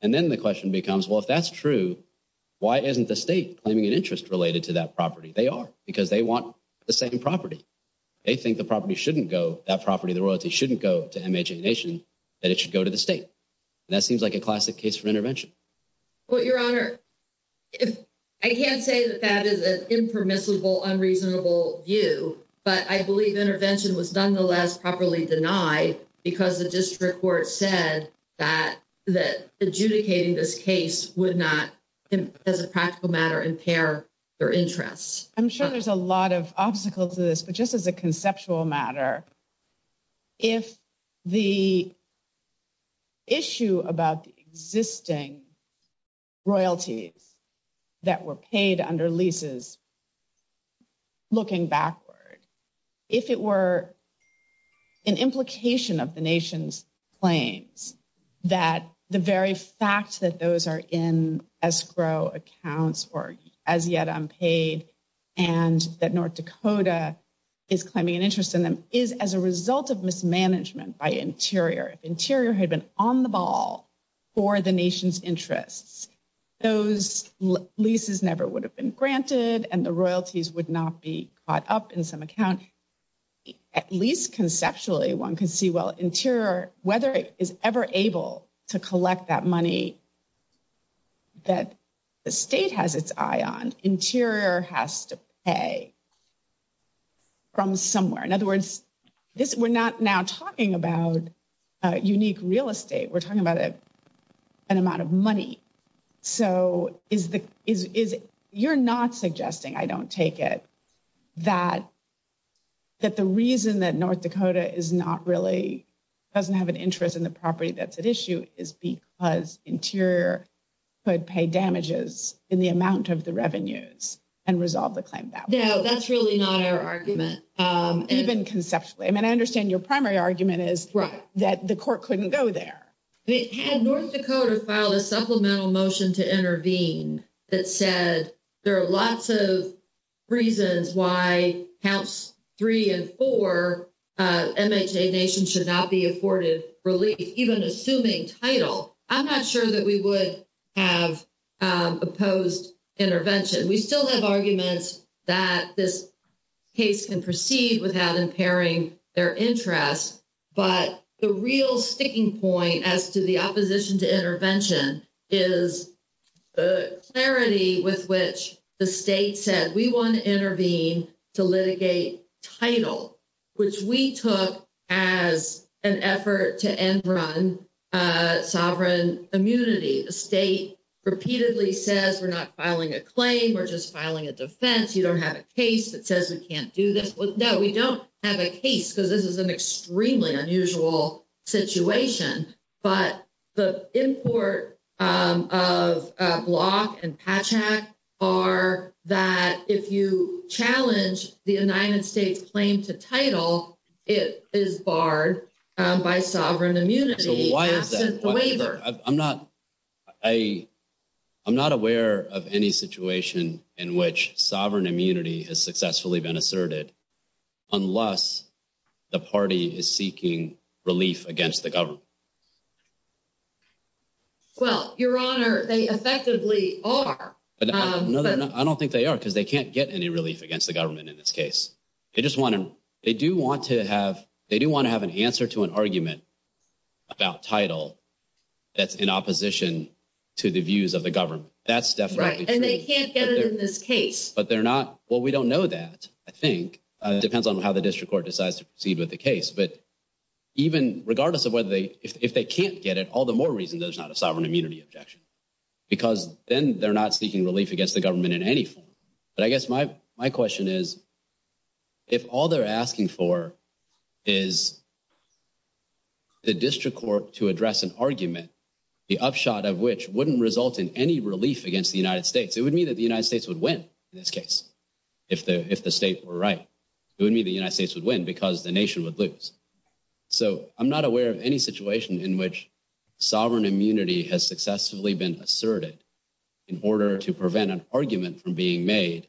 And then the question becomes, well, if that's true, why isn't the state claiming an interest related to that property? They are because they want the same property. They think the property shouldn't go, that property, the royalties shouldn't go to MHA Nation, that it should go to the state. That seems like a classic case for intervention. Well, Your Honor, I can't say that that is an impermissible, unreasonable view, but I believe intervention was nonetheless properly denied because the district court said that adjudicating this case would not, as a practical matter, impair their interest. I'm sure there's a lot of obstacles to this, but just as a conceptual matter, if the issue about the existing royalties that were paid under leases, looking backward, if it were an implication of the Nation's claims that the very fact that those are in escrow accounts or as yet unpaid and that North Dakota is claiming an interest in them is as a result of mismanagement by Interior. If Interior had been on the ball for the Nation's interests, those leases never would have been granted and the royalties would not be caught up in some account. At least conceptually, one can see, well, Interior, whether it is ever able to collect that money that the state has its eye on, Interior has to pay from somewhere. In other words, you're not suggesting, I don't take it, that the reason that North Dakota doesn't have an interest in the property that's at issue is because Interior could pay damages in the amount of the revenues and resolve the claim. No, that's really not our argument. Even conceptually. I mean, I understand your primary argument is that the court couldn't go there. Had North Dakota filed a supplemental motion to intervene that says there are lots of reasons why accounts three and four, MHA Nation should not be afforded relief, even assuming title, I'm not sure that we would have opposed intervention. We still have arguments that this case can proceed without impairing their interest. But the real sticking point as to the opposition to intervention is the clarity with which the state said we want to intervene to litigate title, which we took as an effort to end run sovereign immunity. The state repeatedly says we're not filing a claim, we're just filing a defense. You don't have a case that says we can't do this. No, we don't have a case because this is an extremely unusual situation. But the import of Block and Patchak are that if you challenge the United States claim to title, it is barred by sovereign immunity. I'm not aware of any situation in which sovereign immunity has been asserted unless the party is seeking relief against the government. Well, your honor, they effectively are. I don't think they are because they can't get any relief against the government in this case. They do want to have an answer to an argument about title that's in opposition to the views of the government. That's definitely true. But they're not, well, we don't know that, I think. It depends on how the district court decides to proceed with the case. But even regardless of whether they, if they can't get it, all the more reason there's not a sovereign immunity objection. Because then they're not seeking relief against the government in any form. But I guess my question is, if all they're asking for is the district court to address an argument, the upshot of which wouldn't result in any relief against the United States. It would mean that the United States would win in this case, if the states were right. It would mean the United States would win because the nation would lose. So I'm not aware of any situation in which sovereign immunity has successfully been asserted in order to prevent an argument from being made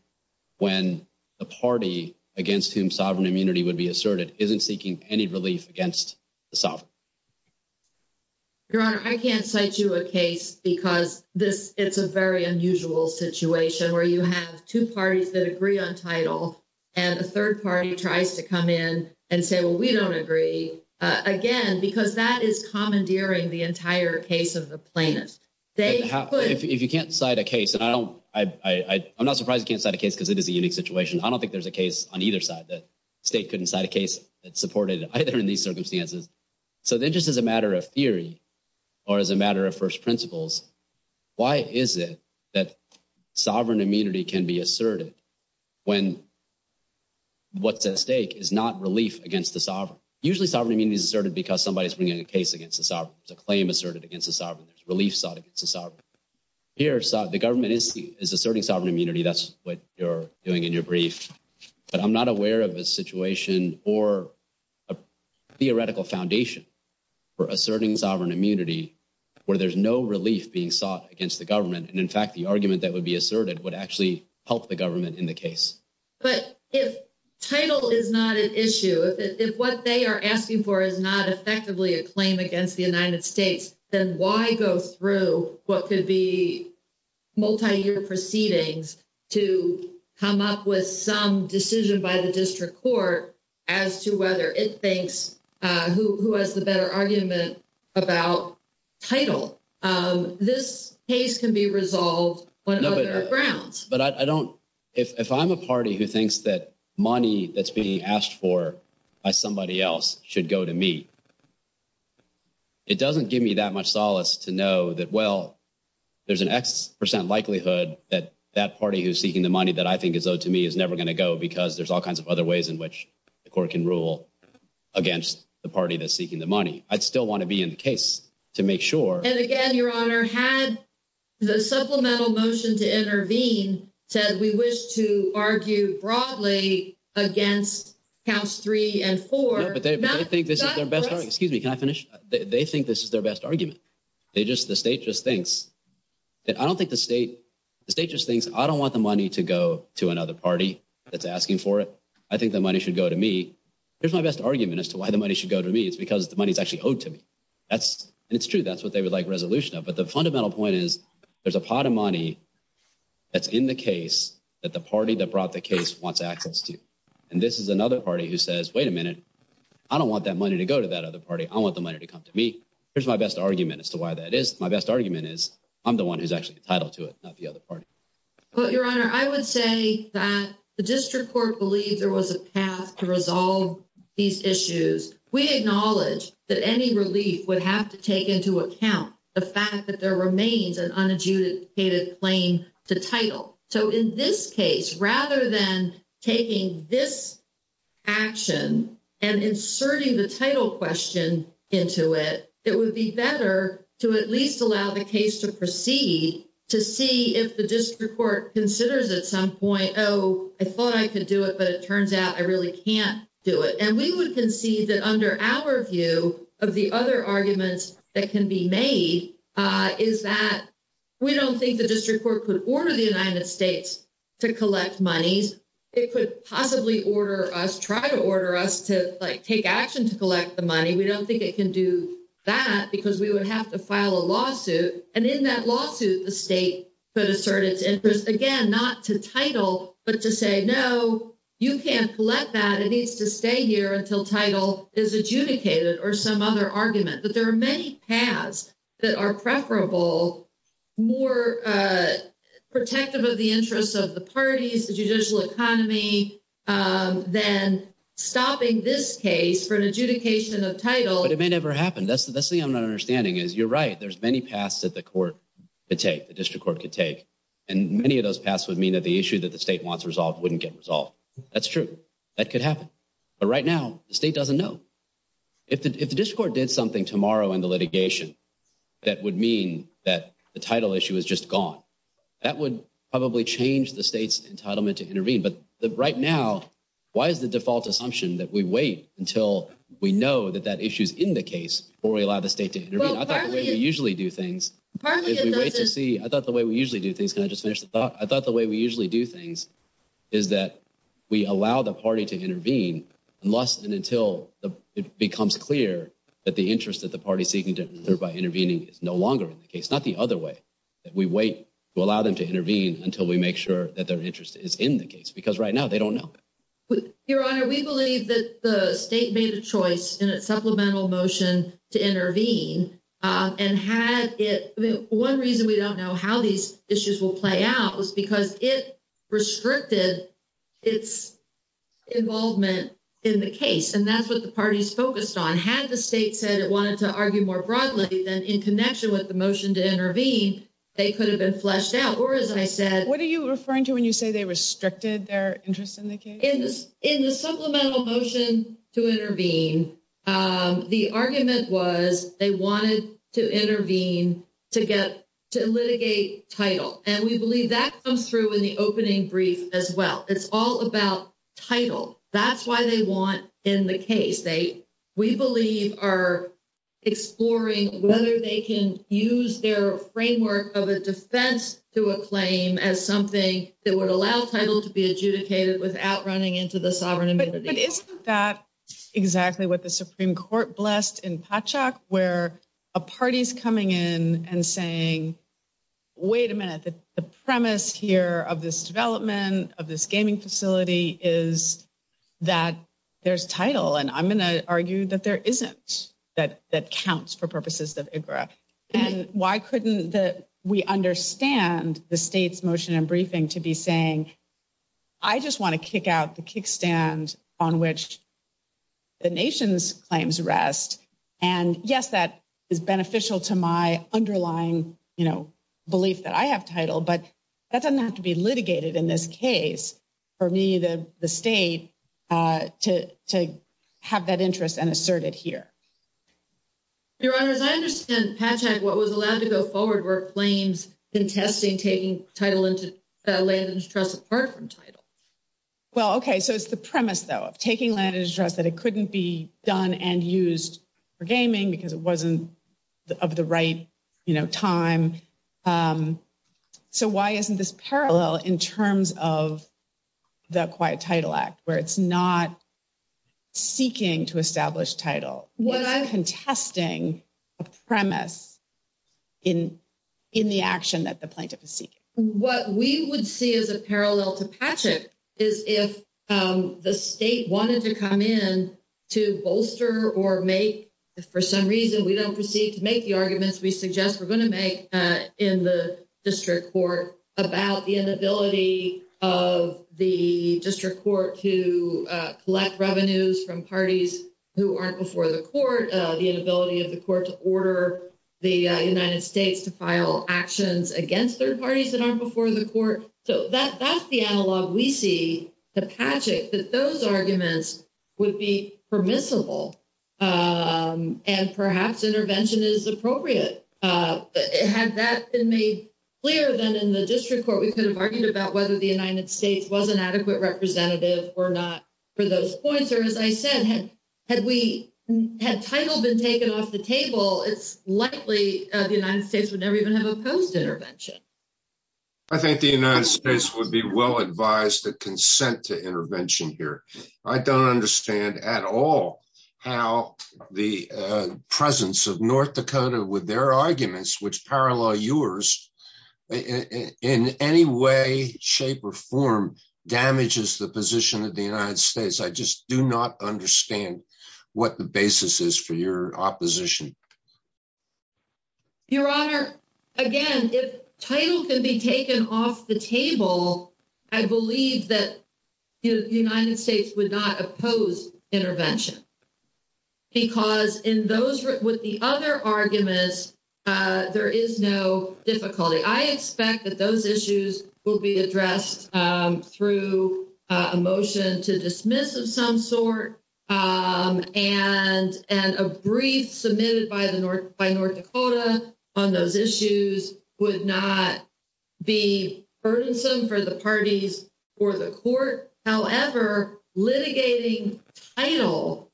when the party against whom sovereign immunity would be asserted isn't seeking any relief against the sovereign. Your Honor, I can't cite you a case because this is a very unusual situation where you have two parties that agree on title and a third party tries to come in and say, well, we don't agree. Again, because that is commandeering the entire case of the plaintiffs. If you can't cite a case, and I'm not surprised you can't cite a case because it is a unique situation. I don't think there's a case on either side that states couldn't cite a case that supported either in these circumstances. So then just as a matter of theory or as a matter of first principles, why is it that sovereign immunity can be asserted when what's at stake is not relief against the sovereign? Usually sovereign immunity is asserted because somebody's bringing a case against the sovereign. It's a claim asserted against the sovereign. There's relief sought against the sovereign. Here, the government is asserting sovereign immunity. That's what you're doing in your brief. But I'm not aware of a situation or a theoretical foundation for asserting sovereign immunity where there's no relief being sought against the government. And in fact, the argument that would be asserted would actually help the government in the case. But if title is not an issue, if what they are asking for is not effectively a claim against the United States, then why go through what could be multi-year proceedings to come up with some decision by the district court as to whether it thinks who has the better argument about title? This case can be resolved when there are grounds. But if I'm a party who thinks that the money that's being asked for by somebody else should go to me, it doesn't give me that much solace to know that, well, there's an X percent likelihood that that party who's seeking the money that I think is owed to me is never going to go because there's all kinds of other ways in which the court can rule against the party that's seeking the money. I'd still want to be in the case to make sure. And again, Your Honor, had the supplemental motion to intervene said we wish to argue broadly against counts three and four. But they think this is their best argument. Excuse me, can I finish? They think this is their best argument. The state just thinks, I don't want the money to go to another party that's asking for it. I think the money should go to me. Here's my best argument as to why the money should go to me. It's because the money is actually owed to me. And it's true, that's what they would like resolution of. But the fundamental point is there's a pot of money that's in the case that the party that brought the case wants access to. And this is another party who says, wait a minute, I don't want that money to go to that other party. I want the money to come to me. Here's my best argument as to why that is. My best argument is I'm the one who's actually entitled to it, not the other party. Well, Your Honor, I would say that the district court believed there was a path to resolve these issues. We acknowledge that any relief would have to take into account the fact that there remains an unadjudicated claim to title. So in this case, rather than taking this action and inserting the title question into it, it would be better to at least allow the case to proceed to see if the district court considers at some point, oh, I thought I could do it, but it turns out I really can't do it. And we would concede that under our of the other arguments that can be made is that we don't think the district court could order the United States to collect money. It could possibly order us, try to order us to take action to collect the money. We don't think it can do that because we would have to file a lawsuit. And in that lawsuit, the state could assert its interest, again, not to title, but to say, no, you can't let that. It needs to stay here until title is adjudicated or some other argument. But there are many paths that are preferable, more protective of the interests of the parties, the judicial economy, than stopping this case for an adjudication of title. But it may never happen. That's the thing I'm not understanding is you're right. There's many paths that the court could take, the district court could take. And many of those paths would mean that the issue that the state wants resolved wouldn't get resolved. That's true. That could happen. But right now, the state doesn't know. If the district court did something tomorrow in the litigation that would mean that the title issue is just gone, that would probably change the state's entitlement to intervene. But right now, why is the default assumption that we wait until we know that that issue is in the case before we allow the state to intervene? I thought the way we usually do things... I thought the way we usually do things is that we allow the party to intervene unless and until it becomes clear that the interest that the party is seeking to improve by intervening is no longer in the case. Not the other way. We wait to allow them to intervene until we make sure that their interest is in the case. Because right now, they don't know. Your Honor, we believe that the state made a choice in its supplemental motion to intervene. And had it... One reason we don't know how these issues will play out is because it restricted its involvement in the case. And that's what the party is focused on. Had the state said it wanted to argue more broadly, then in connection with the motion to intervene, they could have been fleshed out. Or as I said... What are you referring to when you say they restricted their interest in the case? In the supplemental motion to intervene, the argument was they wanted to intervene to get... to litigate title. And we believe that comes through in the opening brief as well. It's all about title. That's why they want in the case. They, we believe, are exploring whether they can use their framework of a defense to a claim as something that would allow title to be adjudicated without running into the sovereign invasive deal. But isn't that exactly what the Supreme Court blessed in Patchak, where a party's coming in and saying, wait a minute, the premise here of this development of this gaming facility is that there's title. And I'm going to argue that there isn't, that counts for purposes of IGGRA. And why couldn't we understand the state's motion and briefing to be saying, I just want to kick out the kickstand on which the nation's claims rest. And yes, that is beneficial to my underlying belief that I have title, but that doesn't have to be litigated in this case for me, the state, to have that interest and assert it here. Your Honor, as I understand Patchak, what was allowed to go forward were claims contesting taking title into that land of interest apart from title. Well, okay. So it's the premise though, taking land of interest that it couldn't be done and used for gaming because it wasn't of the right, you know, time. So why isn't this parallel in terms of the Quiet Title Act, where it's not seeking to establish title? What I'm contesting, a premise in the action that the plaintiff is seeking. What we would see as a parallel to Patchak is if the state wanted to come in to bolster or make, if for some reason we don't proceed to make the arguments we suggest we're going to make in the district court about the inability of the district court to collect revenues from parties who aren't before the court, the inability of the court to order the United States to file actions against third parties that aren't before the court. So that's the analog we see to Patchak, that those arguments would be permissible. And perhaps intervention is appropriate. Has that been made clear that in the district court we could have argued about whether the United States was an adequate representative or not for those points? Or as I said, had title been taken off the table, it's likely the United States would never even have opposed intervention. I think the United States would be well advised to consent to intervention here. I don't understand at all how the presence of North Dakota with their arguments, which parallel yours, in any way, shape, or form damages the position of the United States. I just do not understand what the basis is for your opposition. Your Honor, again, if title can be taken off the table, I believe that the United States would not oppose intervention. Because with the other arguments, there is no difficulty. I expect that those issues will be addressed through a motion to dismiss of some sort. And a brief submitted by North Dakota on those issues would not be burdensome for the parties or the court. However, litigating title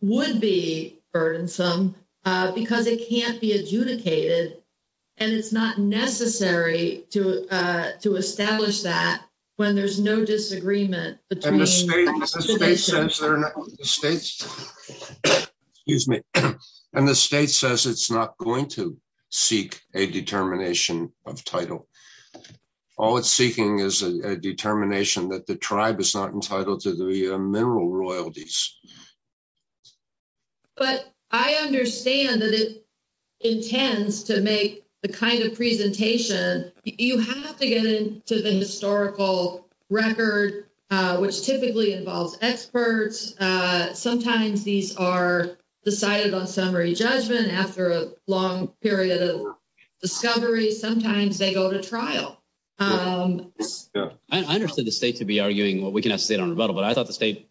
would be burdensome because it can't be adjudicated. And it's not necessary to establish that when there's no disagreement between- And the state says it's not going to seek a determination of title. All it's seeking is a determination that the tribe is not entitled to the mineral royalties. But I understand that it intends to make the kind of presentation. You have to get into the historical record, which typically involves experts. Sometimes these are decided on summary judgment after a long period of discovery. Sometimes they go to trial. I understand the state could be arguing, well, we can have state on a vote, but I thought the state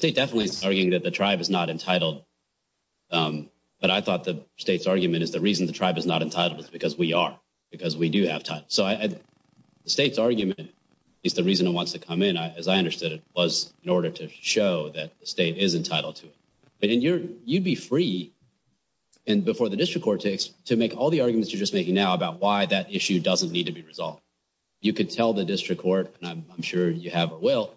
definitely is arguing that the tribe is not entitled. But I thought the state's argument is the reason the tribe is not entitled is because we are, because we do have title. So the state's argument is the reason it wants to come in. As I understood, it was in order to show that the state is entitled to it. And you'd be free, and before the district court takes, to make all the arguments you're just making now about why that issue doesn't need to be resolved. You could tell the district court, and I'm sure you have a will,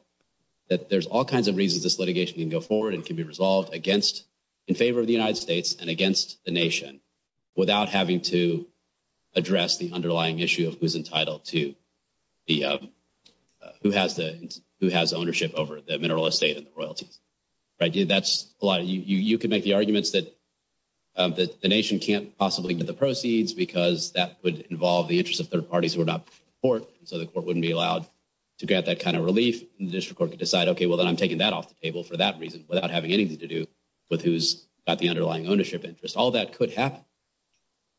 that there's all kinds of reasons this litigation can go forward and can be resolved against, in favor of the United States and against the nation without having to address the underlying issue of who's entitled to the, who has the, who has ownership over the mineral estate and the royalty. Right? That's a lot. You can make the arguments that the nation can't possibly get the proceeds because that would involve the interest of third parties who are not in court. So the court wouldn't be allowed to get that kind of relief. The district court could decide, okay, well, then I'm taking that off the table for that reason without having anything to do with who's got the underlying ownership interest. All that could happen.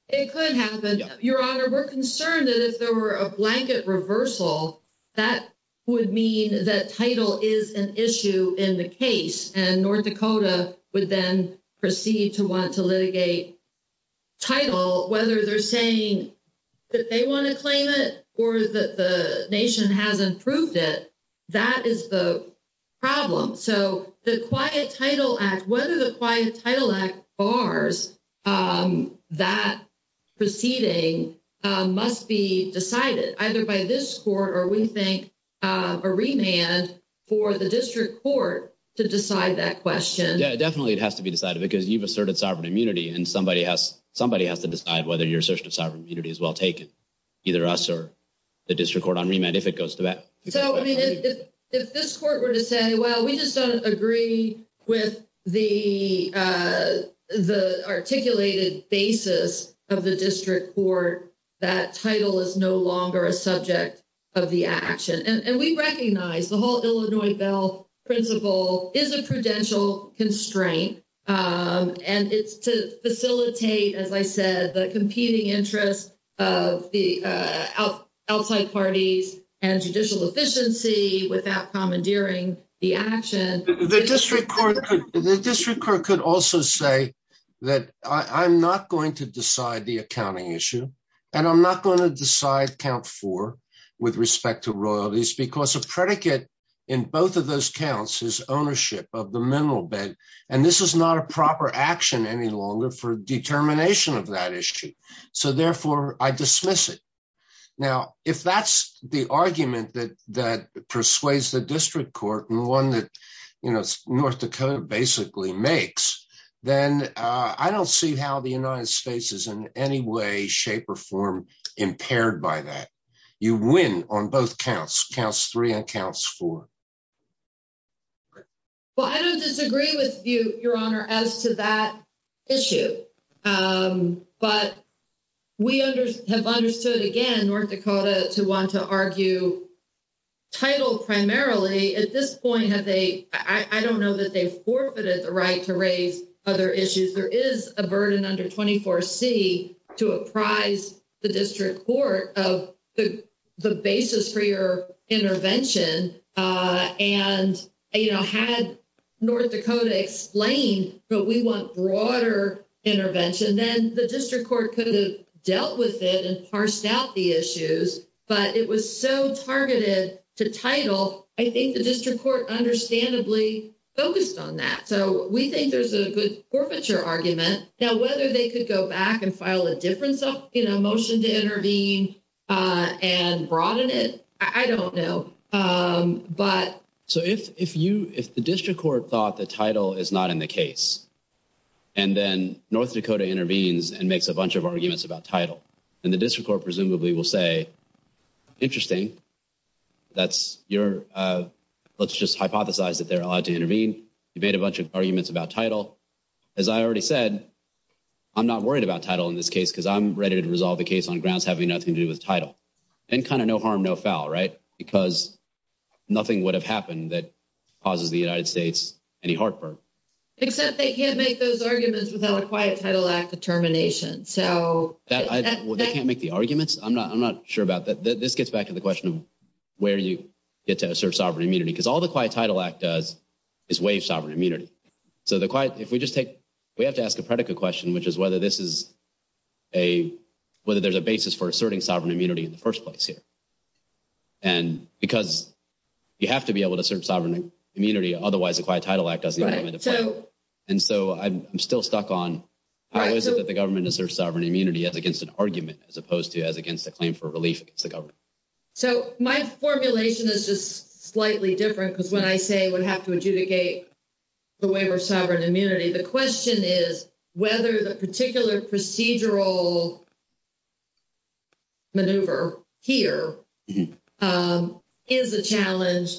It could happen. Your Honor, we're concerned that if there were a blanket reversal, that would mean that title is an issue in the case and North Dakota would then proceed to want to litigate title, whether they're saying that they want to claim it or that the nation hasn't proved it. That is the problem. So the Quiet Title Act, whether the Quiet Title Act bars that proceeding must be decided either by this court or we think a remand for the district court to decide that question. Yeah, it definitely has to be decided because you've asserted sovereign immunity and somebody has to decide whether your assertion of sovereign immunity is well taken. Either us or the district court on remand, if it goes to that. So, I mean, if this court were to say, well, we just don't agree with the articulated basis of the district court, that title is no longer a subject of the action. And we recognize the whole Illinois bail principle is a prudential constraint and it's to facilitate, as I said, the competing interests of the outside party and judicial efficiency without commandeering the action. The district court could also say that I'm not going to decide the accounting issue and I'm not going to decide count four with respect to royalties because of predicate in both of those counts is ownership of the mineral bed and this is not a proper action any longer for determination of that issue. So, therefore, I dismiss it. Now, if that's the argument that persuades the district court and one that, you know, North Dakota basically makes, then I don't see how the United States is in any way, shape or form, impaired by that. You win on both counts, counts three and counts four. Well, I don't disagree with you, Your Honor, as to that issue. But we have understood again, North Dakota to want to argue title primarily. At this point, have they, I don't know that they've forfeited the right to raise other issues. There is a burden under 24C to apprise the district court of the basis for your intervention. And, you know, had North Dakota explained that we want broader intervention, then the district court could have dealt with it and parsed out the issues. But it was so targeted to title, I think the district court understandably focused on that. So, we think there's a good forfeiture argument. Now, whether they could go back and file a motion to intervene and broaden it, I don't know. So, if the district court thought that title is not in the case, and then North Dakota intervenes and makes a bunch of arguments about title, then the district court presumably will say, interesting, let's just hypothesize that they're allowed to intervene, debate a bunch of arguments about title. As I already said, I'm not worried about title in this case because I'm ready to resolve the case on grounds having nothing to do with title. Then kind of no harm, no foul, right? Because nothing would have happened that causes the United States any heartburn. Except they can't make those arguments without a Quiet Title Act determination. So, that's... They can't make the arguments? I'm not sure about that. This gets back to the question of where you get to assert sovereign immunity. Because all the Quiet Title Act does is waive sovereign immunity. So, the Quiet, if we just take, we have to ask a predicate question, which is whether this is a, whether there's a basis for asserting sovereign immunity in the first place here. And because you have to be able to assert sovereign immunity, otherwise, the Quiet Title Act doesn't even make a claim. And so, I'm still stuck on how is it that the government asserts sovereign immunity as against an argument, as opposed to as against a claim for relief against the government? So, my formulation is just slightly different because when I say we have to adjudicate the waiver of sovereign immunity, the question is whether the particular procedural maneuver here is a challenge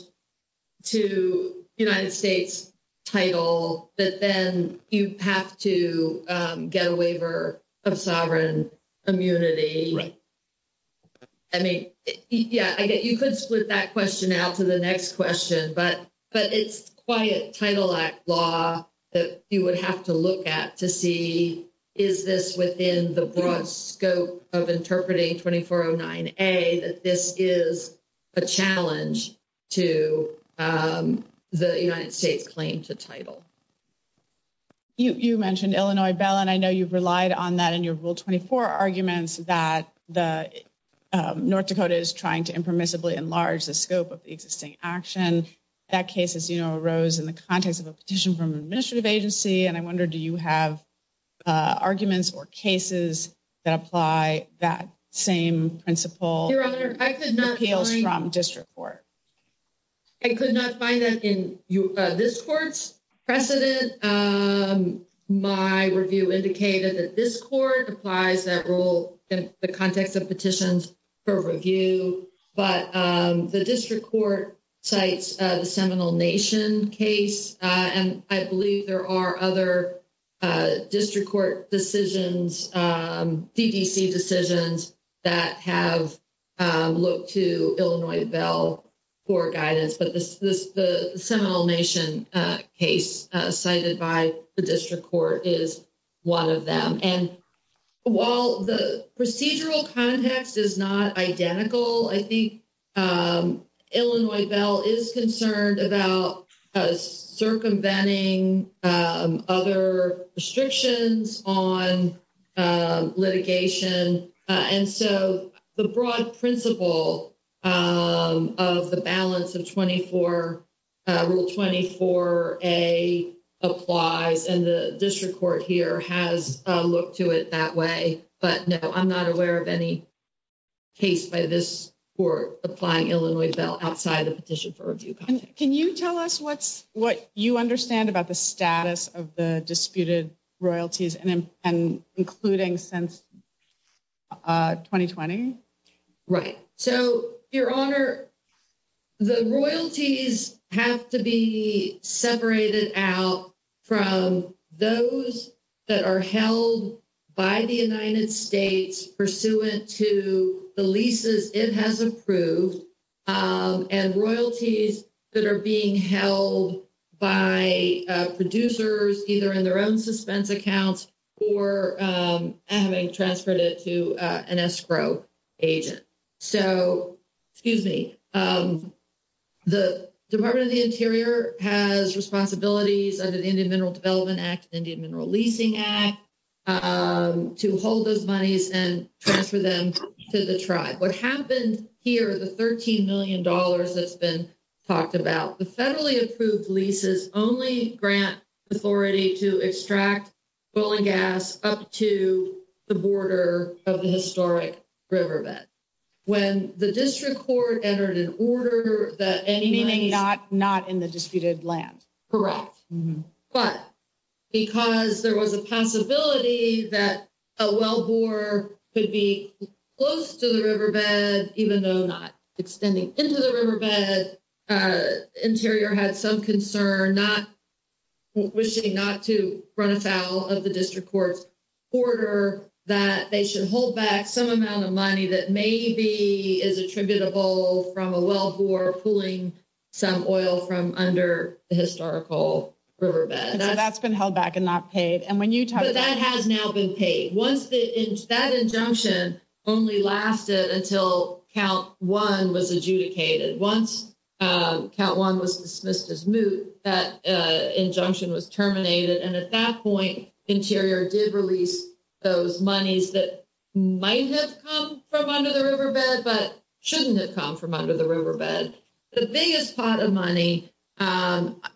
to United States' title, that then you have to get a waiver of sovereign immunity. I mean, yeah, I guess you could split that question out to the next question, but it's Quiet Title Act law that you would have to look at to see is this within the broad scope of interpreting 2409A, that this is a challenge to the United States' claim to title. You mentioned Illinois Bell, and I know you've relied on that in your Rule 24 arguments that the North Dakota is trying to impermissibly enlarge the scope of the existing action. That case, as you know, arose in the context of a petition from an administrative agency, and I wonder, do you have arguments or cases that apply that same principle from district court? I could not find it in this court's precedent. My review indicated that this court applies that rule in the context of petitions for review, but the district court cites the Seminole Nation case, and I believe there are other district court decisions, CDC decisions, that have looked to Illinois Bell for guidance. But the Seminole Nation case cited by the district court is one of them. And while the procedural context is not identical, I think Illinois Bell is concerned about circumventing other restrictions on litigation. And so the broad principle of the balance of Rule 24A applies, and the district court here has looked to it that way. But no, I'm not aware of any case by this court applying Illinois Bell outside of the petition for review context. Can you tell us what you understand about the status of the disputed royalties, including since 2020? Right. So, Your Honor, the royalties have to be separated out from those that are held by the United States pursuant to the leases it has approved, and royalties that are being held by producers either in their own state or in their own county. The Department of the Interior has responsibilities under the Indian Mineral Development Act, Indian Mineral Leasing Act, to hold those monies and transfer them to the tribe. What happened here, the $13 million that's been talked about, the federally approved leases only grant authority to extract oil and gas up to the border of the historic riverbed. When the district court entered an order that any— Not in the disputed land. Correct. But because there was a possibility that a wellbore could be close to the riverbed, even though not extending into the riverbed, Interior had some concern not—wishing not to of the district court's order that they should hold back some amount of money that maybe is attributable from a wellbore pulling some oil from under the historical riverbed. That's been held back and not paid. And when you talk— That has now been paid. Once the—that injunction only lasted until Count 1 was adjudicated. Once Count 1 was dismissed as moot, that injunction was terminated. And at that point, Interior did release those monies that might have come from under the riverbed but shouldn't have come from under the riverbed. The biggest pot of money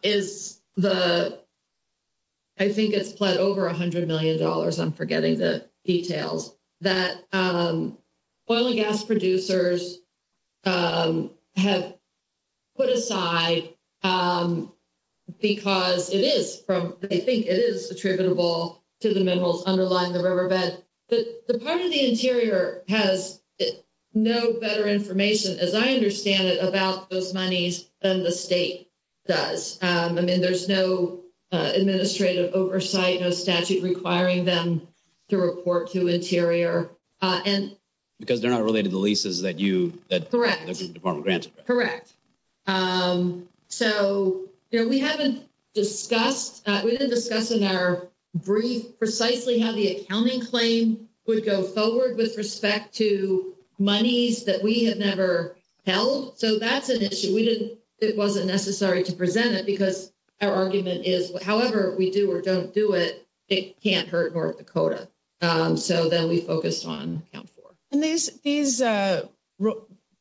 is the—I think it's over $100 million. I'm forgetting the details. That oil and gas producers have put aside because it is from—they think it is attributable to the minerals underlying the riverbed. But the part of the Interior has no better information, as I understand it, about those monies than the state does. I mean, there's no administrative oversight, no statute requiring them to report to Interior. And— Because they're not related to the leases that you— Correct. —that the Department of Grants— Correct. So, you know, we haven't discussed—we've been discussing in our brief precisely how the accounting claim would go forward with respect to monies that we have never held. So that's an issue. We didn't—it wasn't necessary to present it because our argument is, however, if we do or don't do it, it can't hurt North Dakota. So then we focused on account for. And these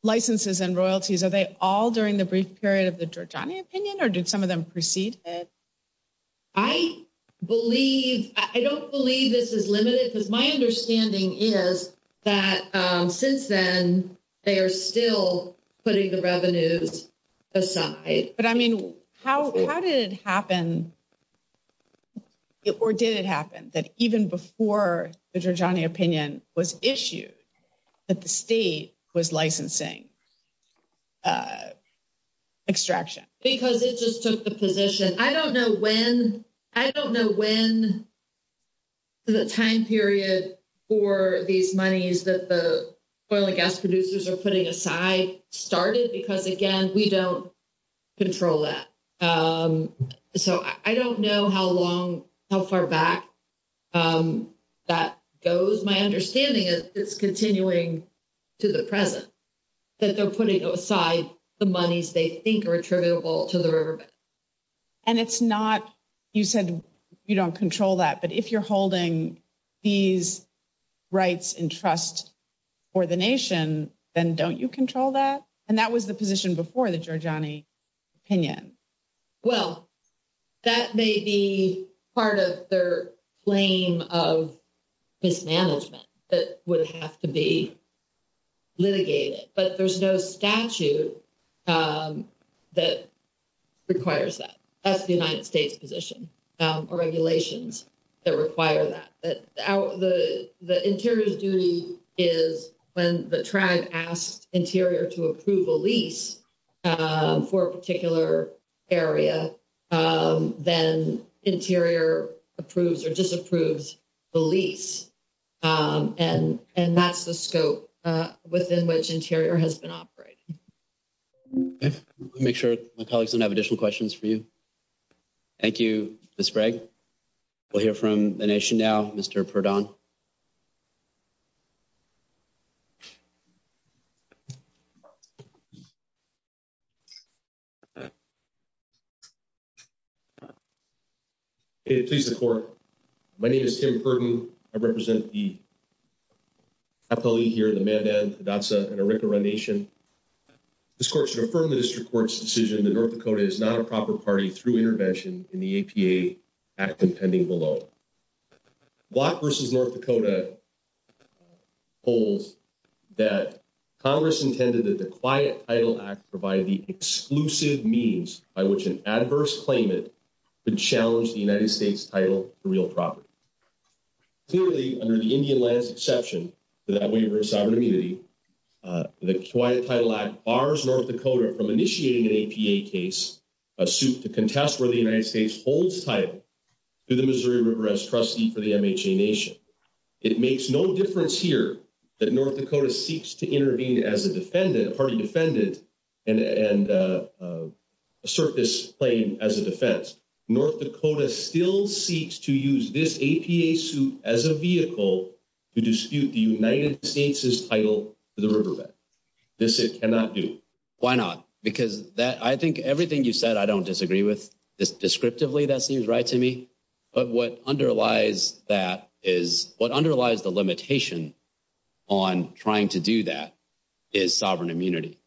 licenses and royalties, are they all during the brief period of the Georgetownian opinion, or did some of them proceed ahead? I believe—I don't believe this is limited. My understanding is that since then, they are still putting the revenues aside. But, I mean, how did it happen, or did it happen, that even before the Georgetownian opinion was issued, that the state was licensing extraction? Because it just took a position. I don't know when—I don't know when the time period for these monies that the soil and gas producers are putting aside started, because, again, we don't control that. So I don't know how long—how far back that goes. My understanding is it's continuing to the present, that they're putting aside the monies they think are attributable to the riverbed. And it's not—you said you don't control that. But if you're holding these rights and trust for the nation, then don't you control that? And that was the position before the Georgetownian opinion. Well, that may be part of their claim of mismanagement that would have to be litigated. But there's no statute that requires that. That's the United States position, or regulations that require that. But the interior duty is when the tribe asks interior to approve a lease for a particular area, then interior approves or disapproves the lease. And that's the scope within which interior has been operated. Okay. Let me make sure my colleagues don't have additional questions for you. Thank you, Ms. Bragg. We'll hear from the nation now, Mr. Ferdon. Okay. Please report. My name is Tim Ferdon. I represent the affiliate here in the Mandan, Hidatsa, and Arikara Nation. This court should affirm that this report's decision that North Dakota is not a proper party through intervention in the APA Act impending below. Block v. North Dakota holds that Congress intended that the Quiet Title Act provide the exclusive means by which an adverse claimant could challenge the United States title for real property. Clearly, under the Indian land exception to that waiver of sovereignty, the Quiet Title Act bars North Dakota from initiating an APA case, a suit to contest where the United States holds title, to the Missouri River Rest Trustee for the MHA Nation. It makes no difference here that North Dakota seeks to intervene as a defendant, a party defendant, and assert this claim as a defense. North Dakota still seeks to use this APA suit as a vehicle to dispute the United States' title to the River Rest. This it cannot do. Why not? Because I think everything you said, I don't disagree with. Descriptively, that seems right to me. But what underlies that is, what underlies the limitation on trying to do that is sovereign immunity.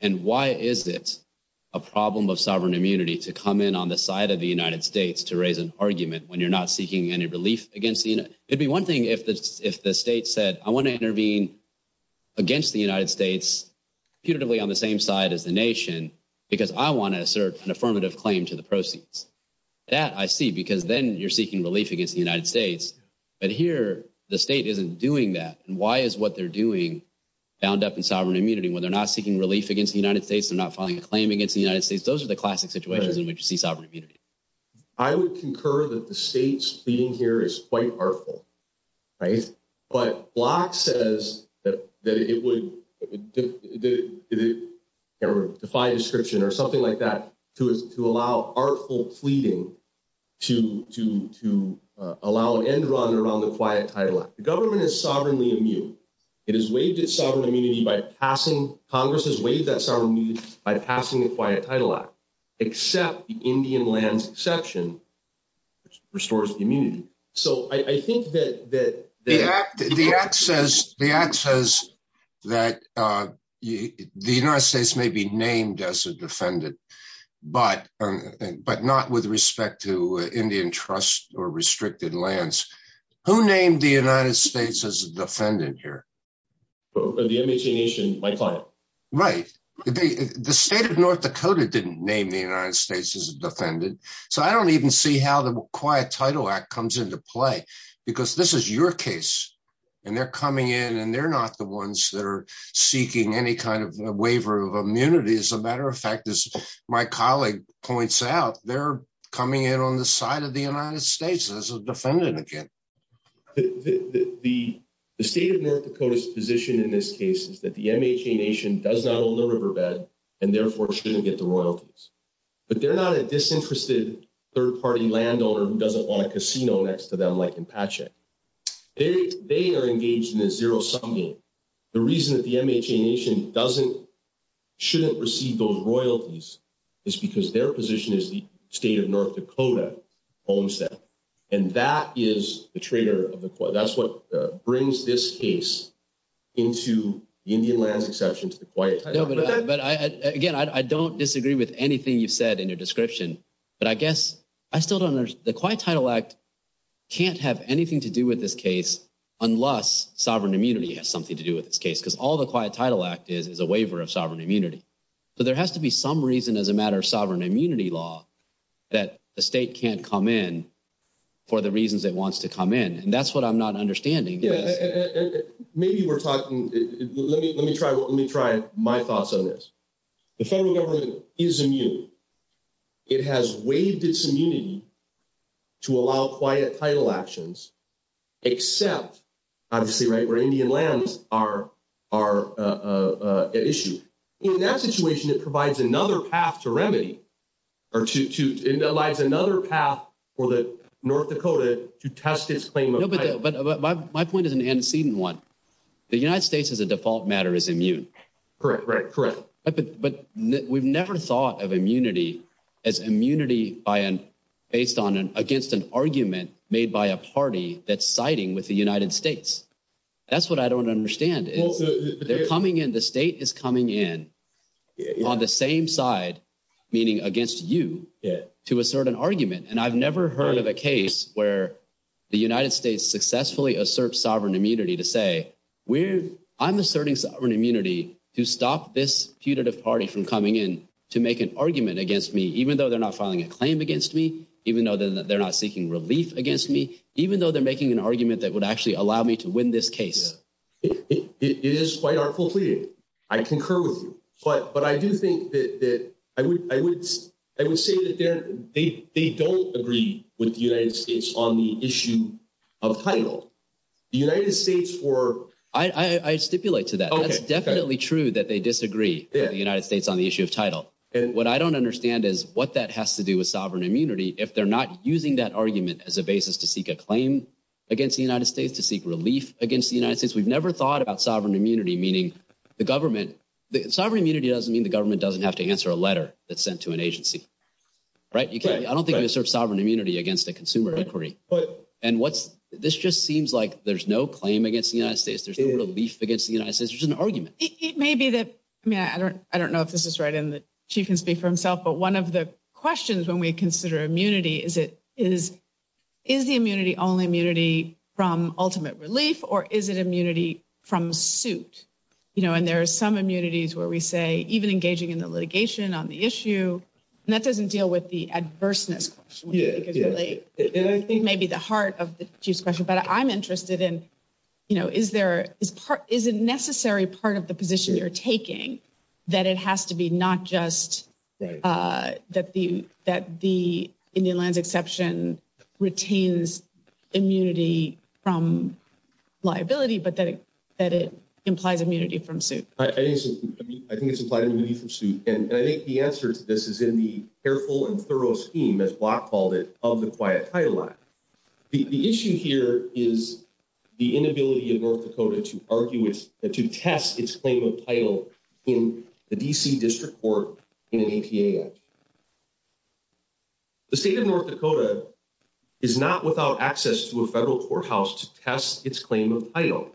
And why is it a problem of sovereign immunity to come in on the side of the United States to raise an argument when you're not seeking any relief against the United States? It'd be one thing if the state said, I want to intervene against the United States, putatively on the same side as the nation, because I want to assert an affirmative claim to the proceeds. That I see, because then you're seeking relief against the United States. But here, the state isn't doing that. And why is what they're doing bound up in sovereign immunity when they're not seeking relief against the United States, they're not filing a claim against the United States? Those are the classic situations in which you see sovereign immunity. I would concur that the state's pleading here is quite artful, right? But Block says that it would, defy description or something like that, to allow artful pleading to allow an end run around the Quiet Title Act. The government is sovereignly immune. It has waived its sovereign immunity by Congress has waived that sovereign immunity by passing the Quiet Title Act, except the Indian lands exception, which restores immunity. So I think that- The act says that the United States may be named as a defendant, but not with respect to Indian trust or restricted lands. Who named the United States as a defendant here? The Indian Nation by file. Right. The state of North Dakota didn't name the United States as a defendant. So I don't even see how the Quiet Title Act comes into play, because this is your case. And they're coming in and they're not the ones that are seeking any kind of waiver of immunity. As a matter of fact, as my colleague points out, they're coming in on the United States as a defendant again. The state of North Dakota's position in this case is that the MHA Nation does not own the riverbed, and therefore shouldn't get the royalties. But they're not a disinterested third-party landowner who doesn't want a casino next to them like in Patchett. They are engaged in a zero-sum game. The reason that the MHA Nation shouldn't receive those royalties is because their position as the state of North Dakota owns that. And that is a traitor of the court. That's what brings this case into Indian lands exceptions to the Quiet Title Act. No, but again, I don't disagree with anything you said in your description, but I guess I still don't understand. The Quiet Title Act can't have anything to do with this case unless sovereign immunity has something to do with this case, because all the Quiet Title Act is is a waiver of sovereign immunity. So there has to be some reason as a matter of sovereign immunity law that the state can't come in for the reasons it wants to come in. And that's what I'm not understanding. Yeah, and maybe we're talking... Let me try my thoughts on this. The federal government is immune. It has waived its immunity to allow quiet title actions, except, obviously, right, Indian lands are at issue. In that situation, it provides another path to remedy, or to analyze another path for the North Dakota to test its claim of... No, but my point is an antecedent one. The United States, as a default matter, is immune. Correct, correct, correct. But we've never thought of immunity as immunity based against an argument made by a party that's siding with the United States. That's what I don't understand. The state is coming in on the same side, meaning against you, to assert an argument. And I've never heard of a case where the United States successfully asserts sovereign immunity to say, I'm asserting sovereign immunity to stop this putative party from coming in to make an argument against me, even though they're not filing a claim against me, even though they're not seeking relief against me, even though they're making an argument that would actually allow me to win this case. It is quite unfulfilling. I concur with you. But I do think that... I would say that they don't agree with the United States on the issue of title. The United States were... I stipulate to that. That is definitely true that they disagree with the United States on the issue of title. What I don't understand is what that has to do with sovereign immunity if they're not using that argument as a basis to seek a claim against the United States, to seek relief against the United States. We've never thought about sovereign immunity, meaning the government... Sovereign immunity doesn't mean the government doesn't have to answer a letter that's sent to an agency, right? I don't think you can assert sovereign immunity against a consumer inquiry. And this just seems like there's no claim against the United States. There's no relief against the United States. There's an argument. It may be that... I mean, I don't know if this is right and the Chief can speak for himself, but one of the questions when we consider immunity is, is the immunity only immunity from ultimate relief or is it immunity from suit? And there are some immunities where we say, even engaging in the litigation on the issue, and that doesn't deal with the adverseness. It may be the heart of the Chief's question, but I'm interested in, you know, is there... Is it necessary part of the position you're taking that it has to be not just that the Indian land exception retains immunity from liability, but that it implies immunity from suit? I think it's implied immunity from suit, and I think the answer to this is in the careful and thorough scheme, as Block called it, of the Quiet Title Act. The issue here is the inability of North Dakota to test its claim of title in the D.C. District Court in an APA Act. The state of North Dakota is not without access to a federal courthouse to test its claim of title.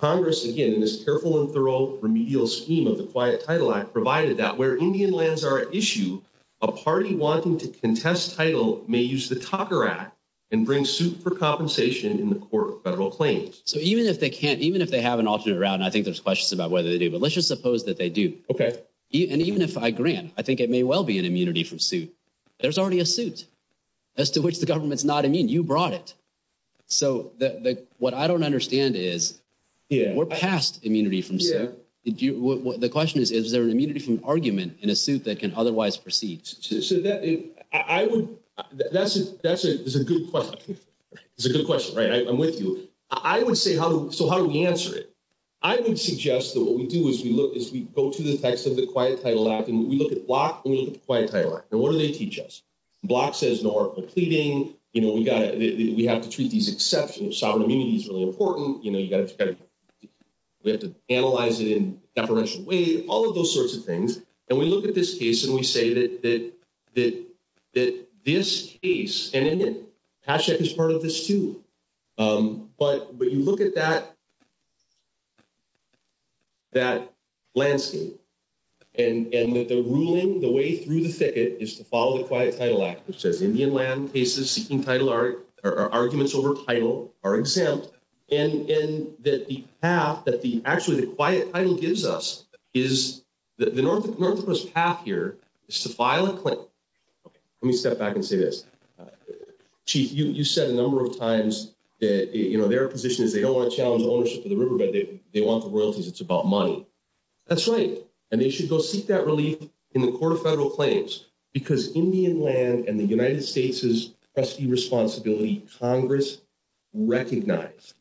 Congress, again, in this careful and thorough remedial scheme of the Quiet Title Act, provided that where Indian lands are at issue, a party wanting to contest title may use the Tucker Act and bring suit for compensation in the court of federal claims. So even if they can't, even if they have an option to route, and I think there's questions about whether they do, but let's just suppose that they do. Okay. And even if I agree, I think it may well be an immunity from suit. There's already a suit as to which the government's not immune. You brought it. So what I don't understand is, we're past immunity from suit. The question is, is there an immunity from argument in a suit that can otherwise proceed? So that is a good question. It's a good question, right? I'm with you. I would say, so how do we answer it? I would suggest that what we do is we go through the text of the Quiet Title Act, and we look at Block and the Quiet Title Act, and what do they teach us? Block says no article of pleading. We have to treat these exceptions. Sovereign immunity is really important. We have to analyze it in a separation way, all of those sorts of things. And we look at this case, and we say that this case, and then the Hatch Act is part of this too, but you look at that landscape, and that the ruling, the way through the thicket, is to follow the Quiet Title Act. It says Indian land cases seeking title are arguments over title are exempt, and that the path, that actually the Quiet Title gives us, is that the Northwest path here is to file a claim. Let me step back and say this. Chief, you said a number of times that their position is they don't want to challenge ownership of the river, but they want the world because it's about money. That's right, and they should go seek that relief in the Court of Federal Claims, because Indian land and the United States' pesky responsibility, Congress recognized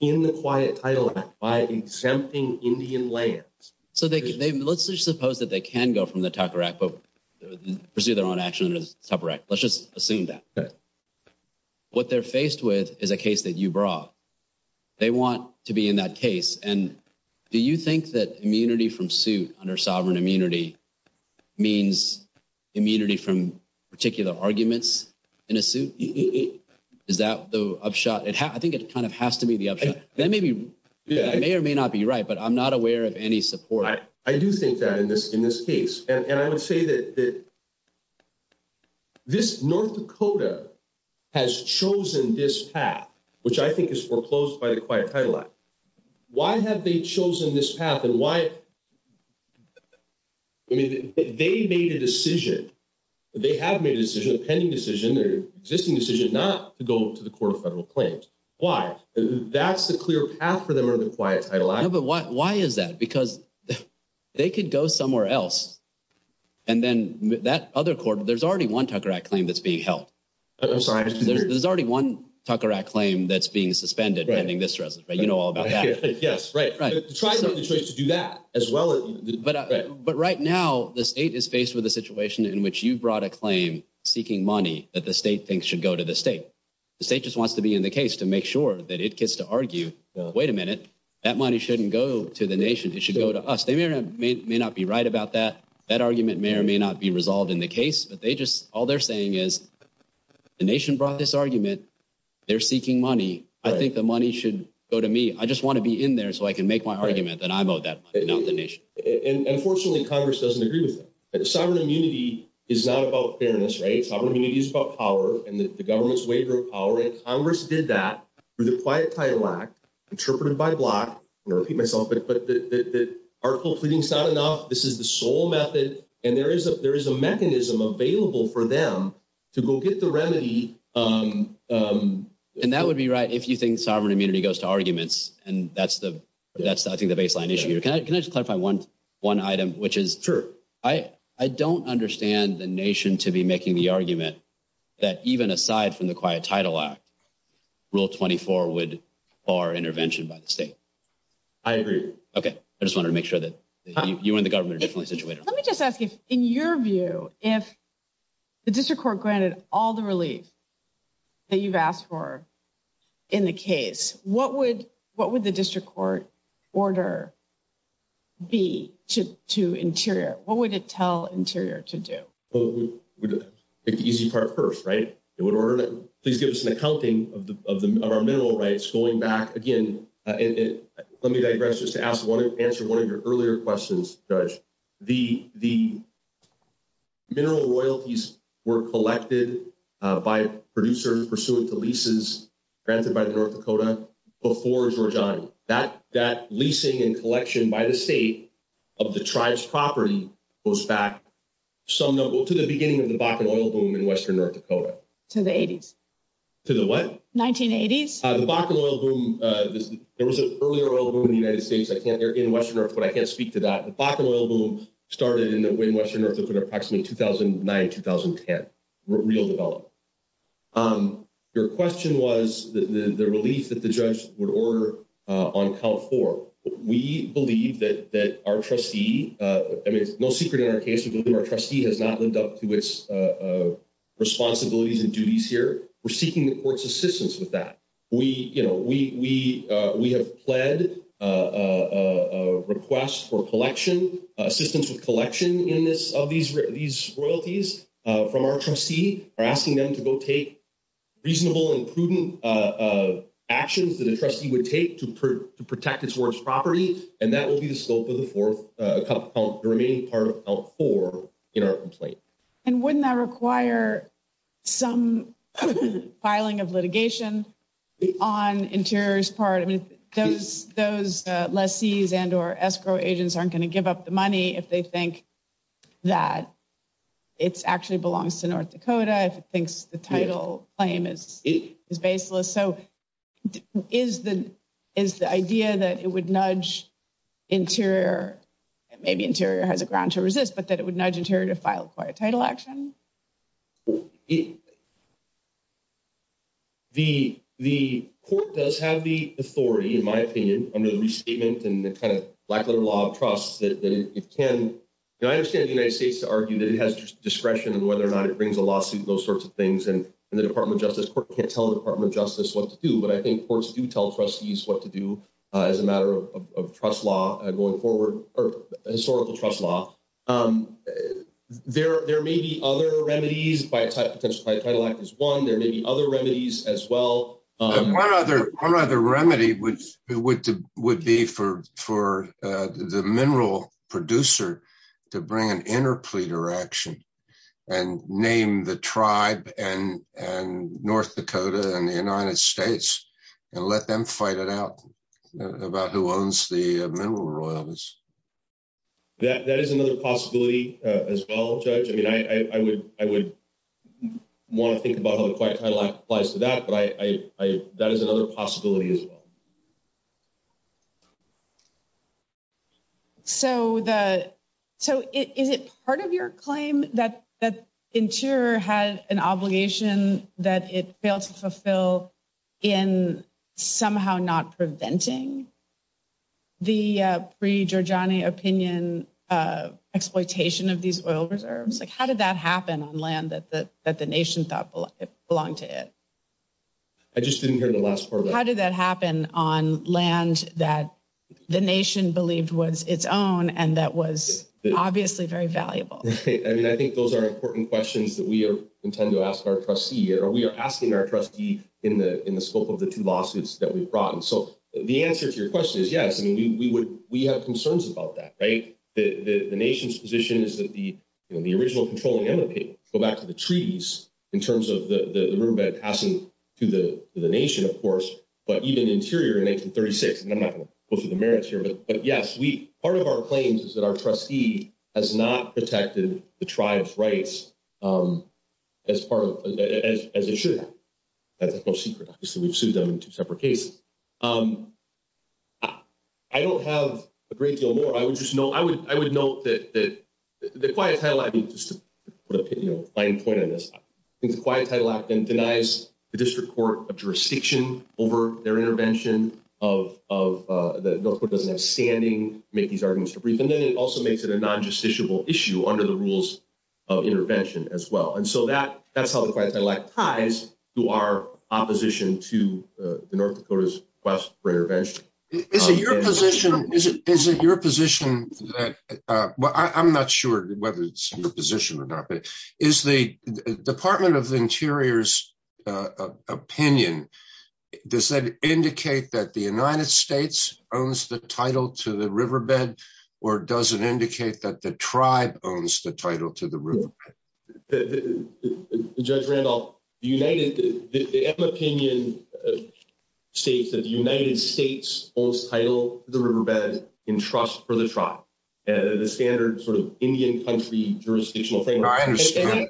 in the Quiet Title Act by exempting Indian lands. So let's just suppose that they can go from the Tucker Act, but pursue their own action in the Tucker Act. Let's just assume that. What they're faced with is a case that you brought. They want to be in that case, and do you think that immunity from suit under sovereign immunity means immunity from particular arguments in a suit? Is that the upshot? I think it kind of has to be the upshot. That may or may not be right, but I'm not aware of any support. I do think that in this case, and I would say that this North Dakota has chosen this path, which I think is foreclosed by the Quiet Title Act. Why have they chosen this path, and why they made a decision? They have made a decision, a pending decision, their existing decision, not to go to the Court of Federal Claims. Why? That's the clear path for them under the Quiet Title Act. Yeah, but why is that? Because they could go somewhere else, and then that other court, there's already one Tucker Act claim that's being held. I'm sorry. There's already one Tucker Act claim that's being suspended pending this resolution. You know all about that. Yes, right. But right now, the state is faced with a situation in which you brought a claim seeking money that the state thinks should go to the state. The state just wants to be in the case to make sure that it gets to argue, wait a minute, that money shouldn't go to the nation. It should go to us. They may or may not be right about that. That argument may or may not be resolved in the case, but all they're saying is the nation brought this argument. They're seeking money. I think the money should go to me. I just want to be in there so I can make my argument that I'm owed that money, not the nation. Unfortunately, Congress doesn't agree with that. Sovereign immunity is not about fairness, right? Sovereign immunity is about power and the government's waiver of power, and Congress did that through the Quiet Title Act, interpreted by the bloc. I'm going to repeat myself, but Article 3 is not enough. This is the sole method, and there is a mechanism available for them to go get the remedy and that would be right if you think sovereign immunity goes to arguments, and that's, I think, the baseline issue. Can I just clarify one item, which is I don't understand the nation to be making the argument that even aside from the Quiet Title Act, Rule 24 would bar intervention by the state. I agree. Okay. I just wanted to make sure that you and the government are definitely situated. Let me just ask you, in your view, if the district court granted all the relief that you've asked for in the case, what would the district court order be to Interior? What would it tell Interior to do? Well, the easy part first, right? It would give us an accounting of our mineral rights going back. Again, let me digress just to answer one of your earlier questions, Judge. The mineral royalties were collected by producers pursuant to leases granted by the North Dakota before Zorjani. That leasing and collection by the state of the tribe's property goes back to the beginning of the Bakken oil boom in western North Dakota. To the 80s. To the what? 1980s. The Bakken oil boom, there was an earlier oil boom in the United States, in western North Dakota. I can't speak to that. The Bakken oil boom started in western North Dakota approximately 2009, 2010. Real development. Your question was the relief that the judge would order on Cal 4. We believe that our trustee, I mean, no secret in our case, but our trustee has not lived up to its responsibilities and duties here. We're seeking the court's assistance with that. We have pled a request for collection, assistance with collection in this, of these royalties from our trustee. We're asking them to go take reasonable and prudent actions that a trustee would take to protect its warehouse property. And that will be the scope of the remaining part of Cal 4 in our complaint. And wouldn't that require some filing of litigation on Interior's part? I mean, those lessees and or escrow agents aren't going to give up the money if they think that it actually belongs to North Dakota, if it thinks the title claim is baseless. So is the idea that it would nudge Interior, maybe Interior has a ground to resist, but that it would nudge Interior to file for a title action? The, the court does have the authority, in my opinion, under the restatement and the kind of lack of the law of trust that it can, and I understand the United States to argue that it has discretion and whether or not it brings a lawsuit, those sorts of things. And the Department of Justice can't tell the Department of Justice what to do, but I think courts do tell trustees what to do as a matter of trust law and going forward, or historical trust law. There may be other remedies by a title like this one, there may be other remedies as well. One other remedy would be for the mineral producer to bring an interpleader action and name the tribe and North Dakota and the United States and let them fight it out about who owns the mineral royalties. Yeah, that is another possibility as well, Judge. I mean, I would want to think about how the question applies to that, but that is another possibility as well. So the, so is it part of your claim that Interior has an obligation that it failed to fulfill in somehow not preventing the pre-Durjani opinion exploitation of these oil reserves? Like, how did that happen on land that the, that the nation thought belonged to it? I just didn't hear the last part. How did that happen on land that the nation believed was its own and that was obviously very valuable? I mean, I think those are important questions that we intend to ask our trustee here, or we are asking our trustee in the scope of the two lawsuits that we brought. And so the answer to your question is, yes, I mean, we have concerns about that, right? The nation's position is that the original controlling advocate, go back to the treaties in terms of the riverbed passing to the nation, of course, but even Interior in 1936, and I'm not going to go through the merits here, but yes, we, part of our claims is that our trustee has not protected the tribe's rights as part of, as they should have. That's no secret. We've sued them in two separate cases. I don't have a great deal more. I would just know, I would, I would note that the quiet title, I think the quiet title act then denies the district court of jurisdiction over their intervention of the North Dakota standing, make these arguments, and then it also makes it a non-justiciable issue under the rules of intervention as well. And so that, that's how the quiet title act ties to our opposition to the North Dakota's quest for intervention. Is it your position, is it, is it your position that, well, I'm not sure whether it's your position or not, but is the Department of the Interior's opinion, does that indicate that the United States owns the title to the riverbed or does it indicate that the tribe owns the title to the riverbed? Judge Randolph, the United, the opinion states that the United States holds title to the riverbed in trust for the tribe, the standard sort of Indian country jurisdictional framework. I understand.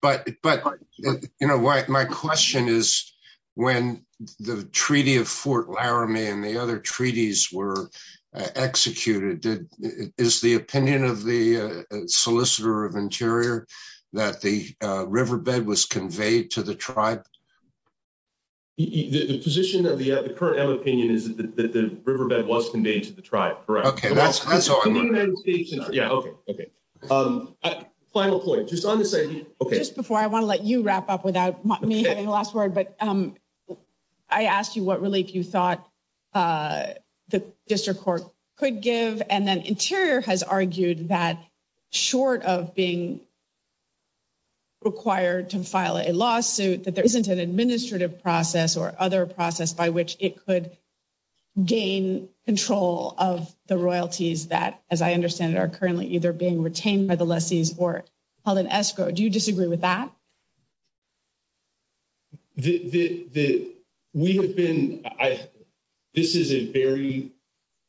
But, but, you know, my question is when the treaty of Fort Solicitor of Interior, that the riverbed was conveyed to the tribe. The position of the current M opinion is that the riverbed was conveyed to the tribe. Correct. Okay. Final point, just on this idea, okay. Before I want to let you wrap up without the last word, but I asked you what relief you thought the district court could give, and then Interior has argued that short of being required to file a lawsuit, that there isn't an administrative process or other process by which it could gain control of the royalties that, as I understand it, are currently either being retained by the lessees or held in escrow. Do you disagree with that? The, the, we have been, I, this is a very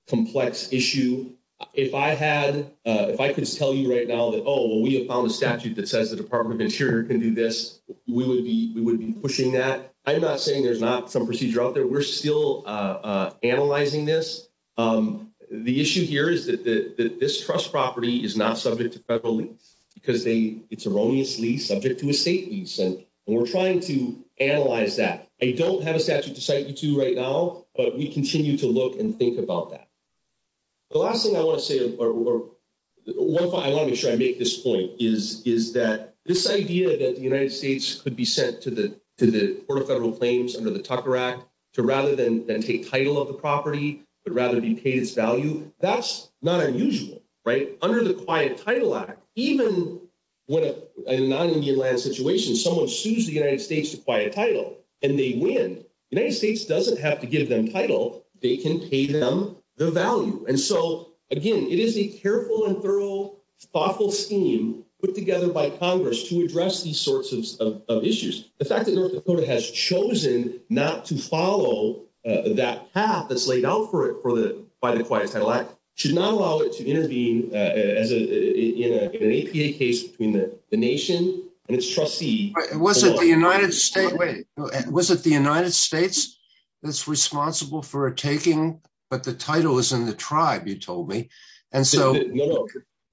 complex issue. If I had, if I could tell you right now that, oh, well, we have found a statute that says the Department of Interior can do this, we would be, we would be pushing that. I'm not saying there's not some procedure out there. We're still analyzing this. The issue here is that this trust property is not subject to federal because they, it's erroneously subject to a state lease, and we're trying to analyze that. I don't have a statute decided to right now, but we continue to look and think about that. The last thing I want to say, or one point I want to make sure I make this point is, is that this idea that the United States could be sent to the, to the court of federal claims under the Tucker Act to rather than, than take title of the property, but rather be paid its value, that's not unusual, right? Under the Quiet Title Act, even when a non-Indian land situation, someone chooses the United States to quiet title and they win, the United States doesn't have to give them title. They can pay them their value. And so, again, it is a careful and thorough thoughtful scheme put together by Congress to address these sorts of issues. The fact that North Dakota has chosen not to follow that path that's laid out for it for the, by the Quiet Title Act, should not allow it to intervene in an APA case between the nation and its trustee. Was it the United States that's responsible for taking, but the title is in the tribe, you told me. And so,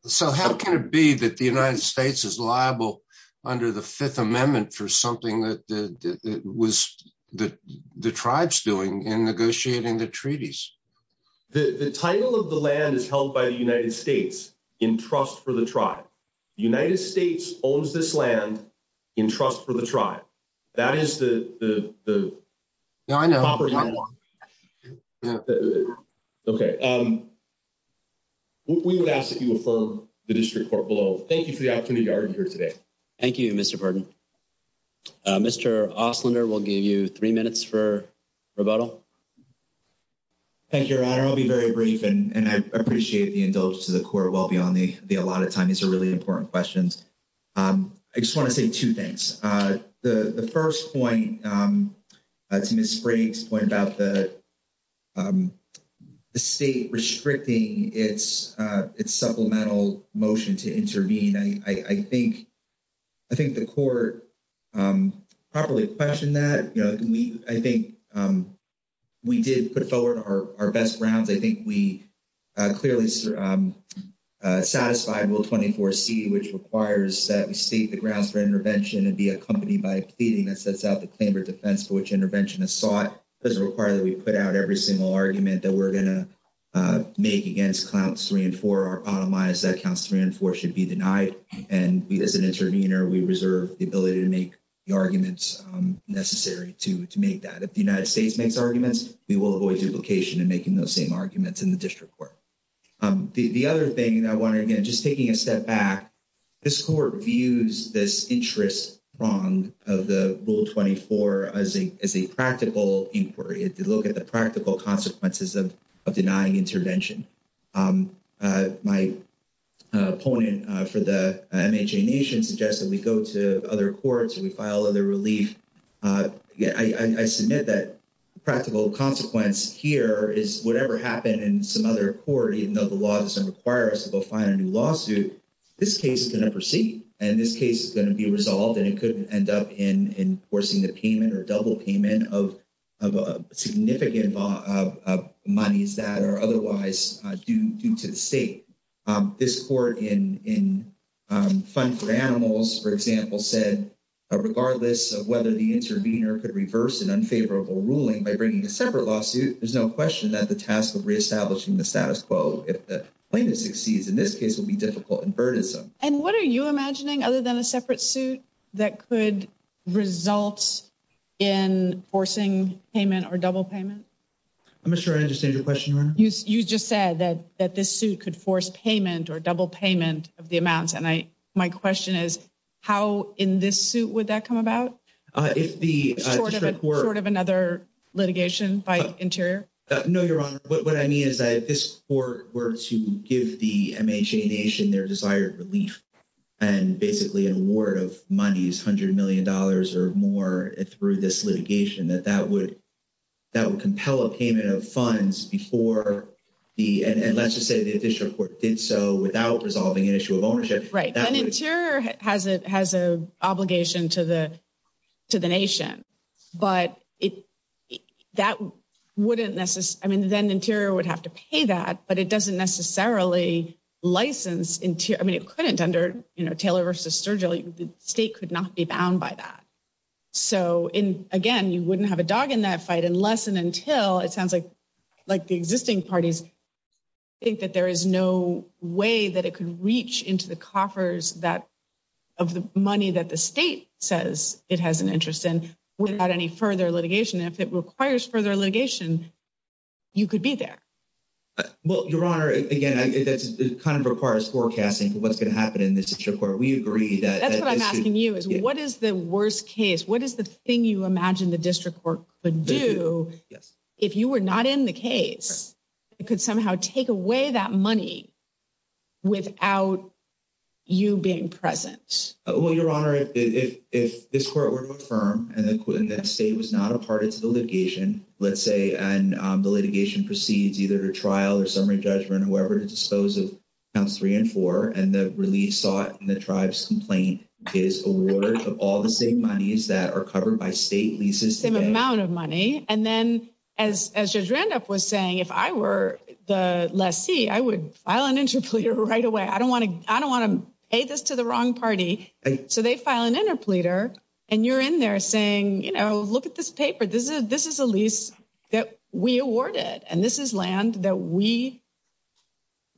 so how can it be that the United States is liable under the Fifth Amendment for something that was, that the tribe's doing in negotiating the treaties? The, the title of the land is held by the United States in trust for the tribe. United States owns this land in trust for the tribe. That is the, the, the. Okay. We would ask that you affirm the district court vote. Thank you for the opportunity to argue here today. Thank you, Mr. Pardon. Mr. Oslender, we'll give you three minutes for rebuttal. Thank you, your honor. I'll be very brief and, and I appreciate the indulgence to the court well beyond the allotted time. These are really important questions. I just want to say two things. The, the first point to Ms. Sprague's point about the state restricting its, its supplemental motion to intervene. And I think, I think the court properly questioned that. You know, we, I think we did put forward our best ground. I think we clearly satisfied Rule 24C, which requires that we state the grounds for intervention and be accompanied by a pleading that sets out the standard defense for which intervention is sought. It doesn't require that we put out every single argument that we're going to make against counts three and four or optimize that counts three and four should be denied. And as an intervener, we reserve the ability to make the arguments necessary to, to make that. If the United States makes arguments, we will avoid duplication and making those same arguments in the district court. The other thing I want to, again, just taking a step back, this court views this interest prong of the Rule 24 as a, as a practical inquiry. If you look at the practical consequences of denying intervention, my opponent for the MHA Nation suggested we go to other courts and we file other relief. Yeah, I, I submit that practical consequence here is whatever happened in some other court, even though the law doesn't require us to go find a new lawsuit, this case is going to proceed and this case is going to be resolved and it couldn't end up in enforcing the payment or double payment of, of a significant amount of monies that are otherwise due to the state. This court in, in Fund for Animals, for example, said regardless of whether the intervener could reverse an unfavorable ruling by bringing a separate lawsuit, there's no question that the task of reestablishing the status quo, if the plaintiff succeeds in this case, will be difficult And what are you imagining other than a separate suit that could result in forcing payment or double payment? I'm not sure I understand your question. You just said that, that this suit could force payment or double payment of the amounts and I, my question is how in this suit would that come about? If the court of another litigation by Interior? No, you're wrong. What relief and basically award of monies, a hundred million dollars or more through this litigation that that would, that would compel a payment of funds before the, and let's just say the district court did so without resolving an issue of ownership. Right, and Interior has a, has a obligation to the, to the nation, but it, that wouldn't necessarily, I mean then Interior would have to pay that, but it doesn't necessarily license Interior, I mean it couldn't under, you know, Taylor v. Sturgill, the state could not be bound by that. So in, again, you wouldn't have a dog in that fight unless and until it sounds like, like the existing parties think that there is no way that it could reach into the coffers that, of the money that the state says it has an interest in without any further litigation. If it requires further litigation, you could be there. Well, Your Honor, again, that kind of requires forecasting for what's going to happen in the district court. We agree that. That's what I'm asking you is what is the worst case? What is the thing you imagine the district court could do if you were not in the case? It could somehow take away that money without you being present. Well, Your Honor, if, if this court were firm and the state was not a part of the litigation, let's say and the litigation proceeds either trial or summary judgment, whoever disposes of counts three and four, and the release sought in the tribe's complaint is awarded of all the state monies that are covered by state leases. Same amount of money. And then as Judge Randolph was saying, if I were the lessee, I would file an interpleader right away. I don't want to, I don't want to pay this to the wrong party. So they file an interpleader and you're in there saying, you know, look at this paper. This is, this is a lease that we awarded and this is land that we,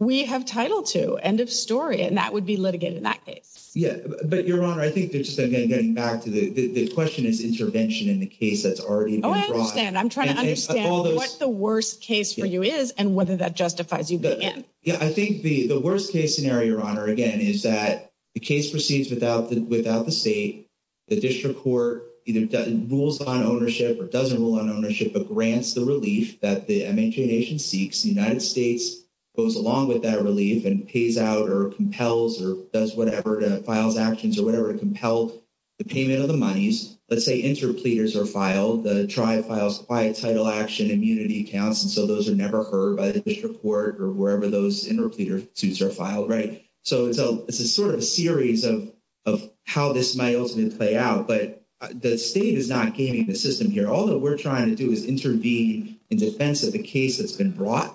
we have title to end of story. And that would be litigated in that case. Yeah. But Your Honor, I think this is getting back to the question is intervention in the case that's already been brought up. Oh, I understand. I'm trying to understand what's the worst case for you is and whether that justifies you being in. Yeah. I think the worst case scenario, Your Honor, again, is that the case proceeds without the, without the the district court either rules on ownership or doesn't rule on ownership, but grants the relief that the MNQA nation seeks. The United States goes along with that relief and pays out or compels or does whatever, files actions or whatever to compel the payment of the monies. Let's say interpleaders are filed. The tribe files quiet title action immunity counts. And so those are never heard by the district court or wherever those interpleader suits are filed. Right. So it's a, sort of a series of, of how this might ultimately play out, but the state is not gaining the system here. All that we're trying to do is intervene in defense of the case that's been brought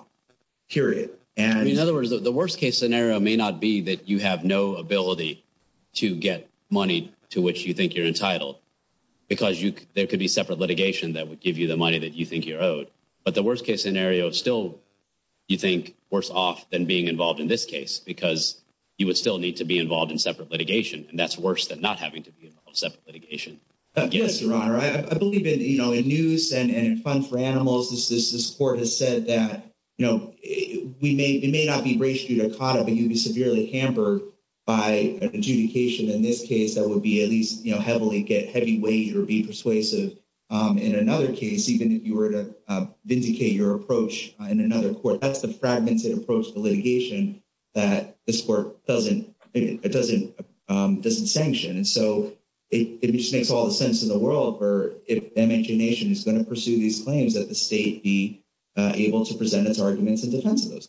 period. And in other words, the worst case scenario may not be that you have no ability to get money to which you think you're entitled because you, there could be separate litigation that would give you the money that you think you're owed. But the worst case scenario is still, you think worse off than being involved in this case, because you would still need to be involved in separate litigation. And that's worse than not having to be involved in separate litigation. Yes, Your Honor. I believe that, you know, in use and in funds for animals, this court has said that, you know, we may, it may not be racially dichotomy, but you'd be severely hampered by adjudication. In this case, that would be at least, you know, heavily get heavy weight or be persuasive. In another case, even if you were to vindicate your approach in another court, that's the fragmented approach to litigation that this court doesn't, it doesn't, doesn't sanction. And so it just makes all the sense in the world for if MNJ Nation is going to pursue these claims that the state be able to present its arguments in defense of those.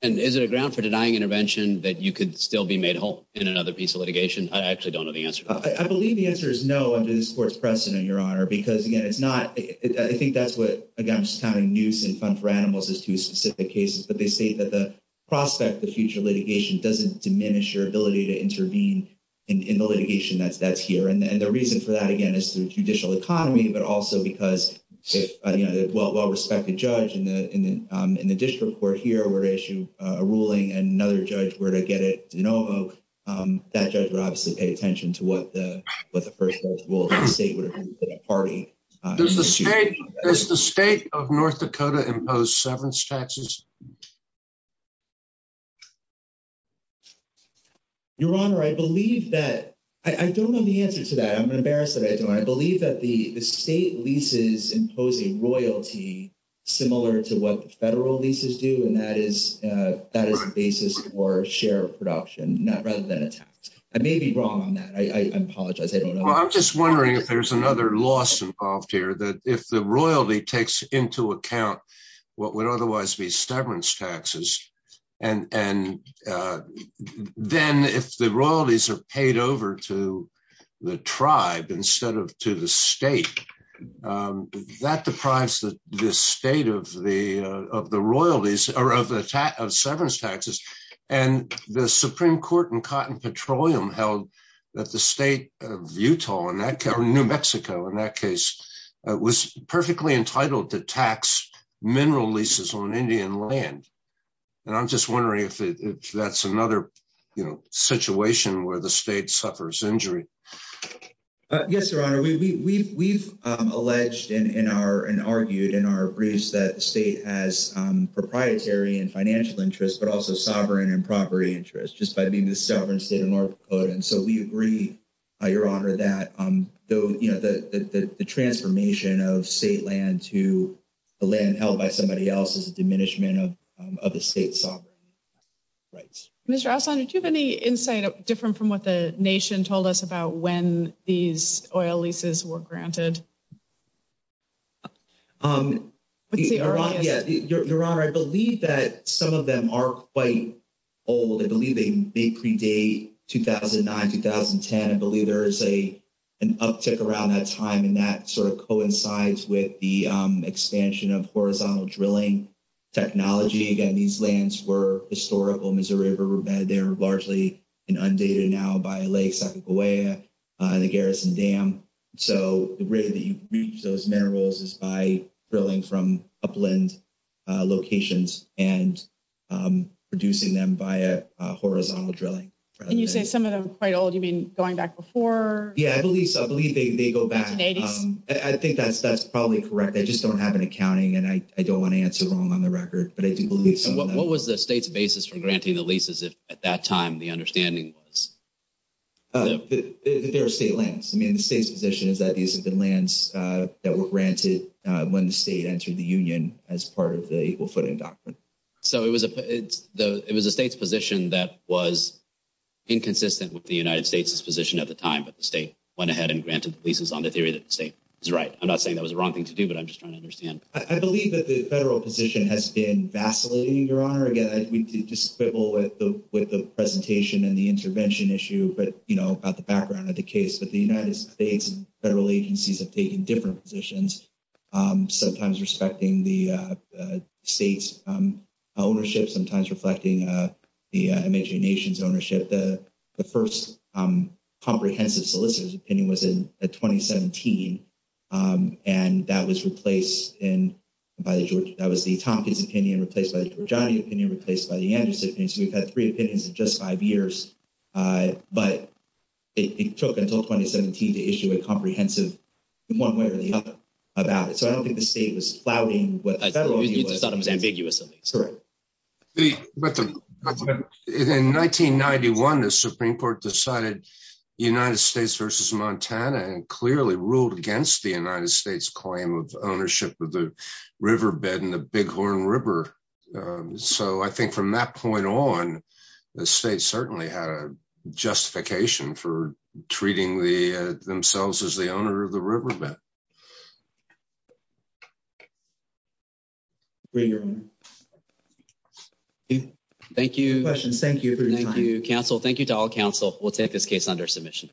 And is it a ground for denying intervention that you could still be made whole in another piece of litigation? I actually don't know the answer. I believe the answer is no under this court's precedent, Your Honor, because again, it's not, I think that's what, again, just kind of news and fun for animals is to specific cases, but they state that the prospect of future litigation doesn't diminish your ability to intervene in the litigation that's here. And the reason for that, again, is to judicial economy, but also because, you know, well, well-respected judge in the district court here were to issue a ruling and another judge were to get it, you know, that judge would obviously pay attention to what the, what the first rule of the state would have been for the party. Does the state, does the state of North Dakota impose severance taxes? Your Honor, I believe that, I don't know the answer to that. I'm embarrassed that I don't. I believe that the state leases impose a royalty similar to what the federal leases do. And that is a basis for share of production, not rather than a tax. I may be wrong on that. I apologize. I don't know. Well, I'm just wondering if there's another loss involved here, that if the royalty takes into account what would otherwise be severance taxes, and then if the royalties are paid over to the tribe instead of to the state, that deprives the state of the royalties of severance taxes. And the Supreme Court in Cotton Petroleum held that the state of Utah, in that case, or New Mexico in that case, was perfectly entitled to tax mineral leases on Indian land. And I'm just wondering if that's another, you know, situation where the state suffers injury. Yes, Your Honor. We've alleged in our, and argued in our briefs that the state has proprietary and financial interests, but also sovereign and property interests just by being the sovereign state of North Dakota. And so we agree, Your Honor, that the transformation of state land to land held by somebody else is a diminishment of the state's sovereign rights. Mr. Aslan, did you have any insight different from what the nation told us about when these oil leases were granted? Your Honor, I believe that some of them are quite old. I believe they predate 2009, 2010. I believe there is an uptick around that time, and that sort of coincides with the expansion of horizontal drilling technology. Again, these lands were historical, Missouri River, and they're largely undated now by Lake Sacagawea and the Garrison Dam. So the way that you reach those minerals is by drilling from upland locations and producing them via horizontal drilling. And you said some of them are quite old. You mean going back before? Yeah, I believe so. I believe they go back. I think that's probably correct. I just don't have an accounting, and I don't want to answer wrong on the record, but I do believe so. What was the state's basis for granting the leases at that time, the understanding? They're state lands. I mean, the state's position is that these have been lands that were granted when the state entered the union as part of the Equal Footing Doctrine. So it was the state's position that was inconsistent with the United States' position at the time that the state went ahead and granted leases on the theory that the state was right. I'm not saying that was the wrong thing to do, but I'm just trying to understand. I believe that the federal position has been vacillating, Your Honor. Again, I think we could just quibble with the presentation and the intervention issue, but, you know, about the background of the case, that the United States and federal agencies have taken different positions, sometimes respecting the state's ownership, sometimes reflecting the American nation's ownership. The first comprehensive solicitor's opinion was in 2017, and that was the Tompkins opinion, replaced by the Georgiani opinion, replaced by the Andrews opinion. So we've had three opinions in just five years, but it took until 2017 to issue a comprehensive one way or the other about it. So I don't think the state was plowing what the federal agency was doing. In 1991, the Supreme Court decided the United States versus Montana and clearly ruled against the United States' claim of ownership of the riverbed in the Bighorn River. So I think from that point on, the state certainly had a justification for treating themselves as the owner of the riverbed. Thank you. Questions? Thank you for your time. Thank you, counsel. Thank you to all counsel. We'll take this case under submission.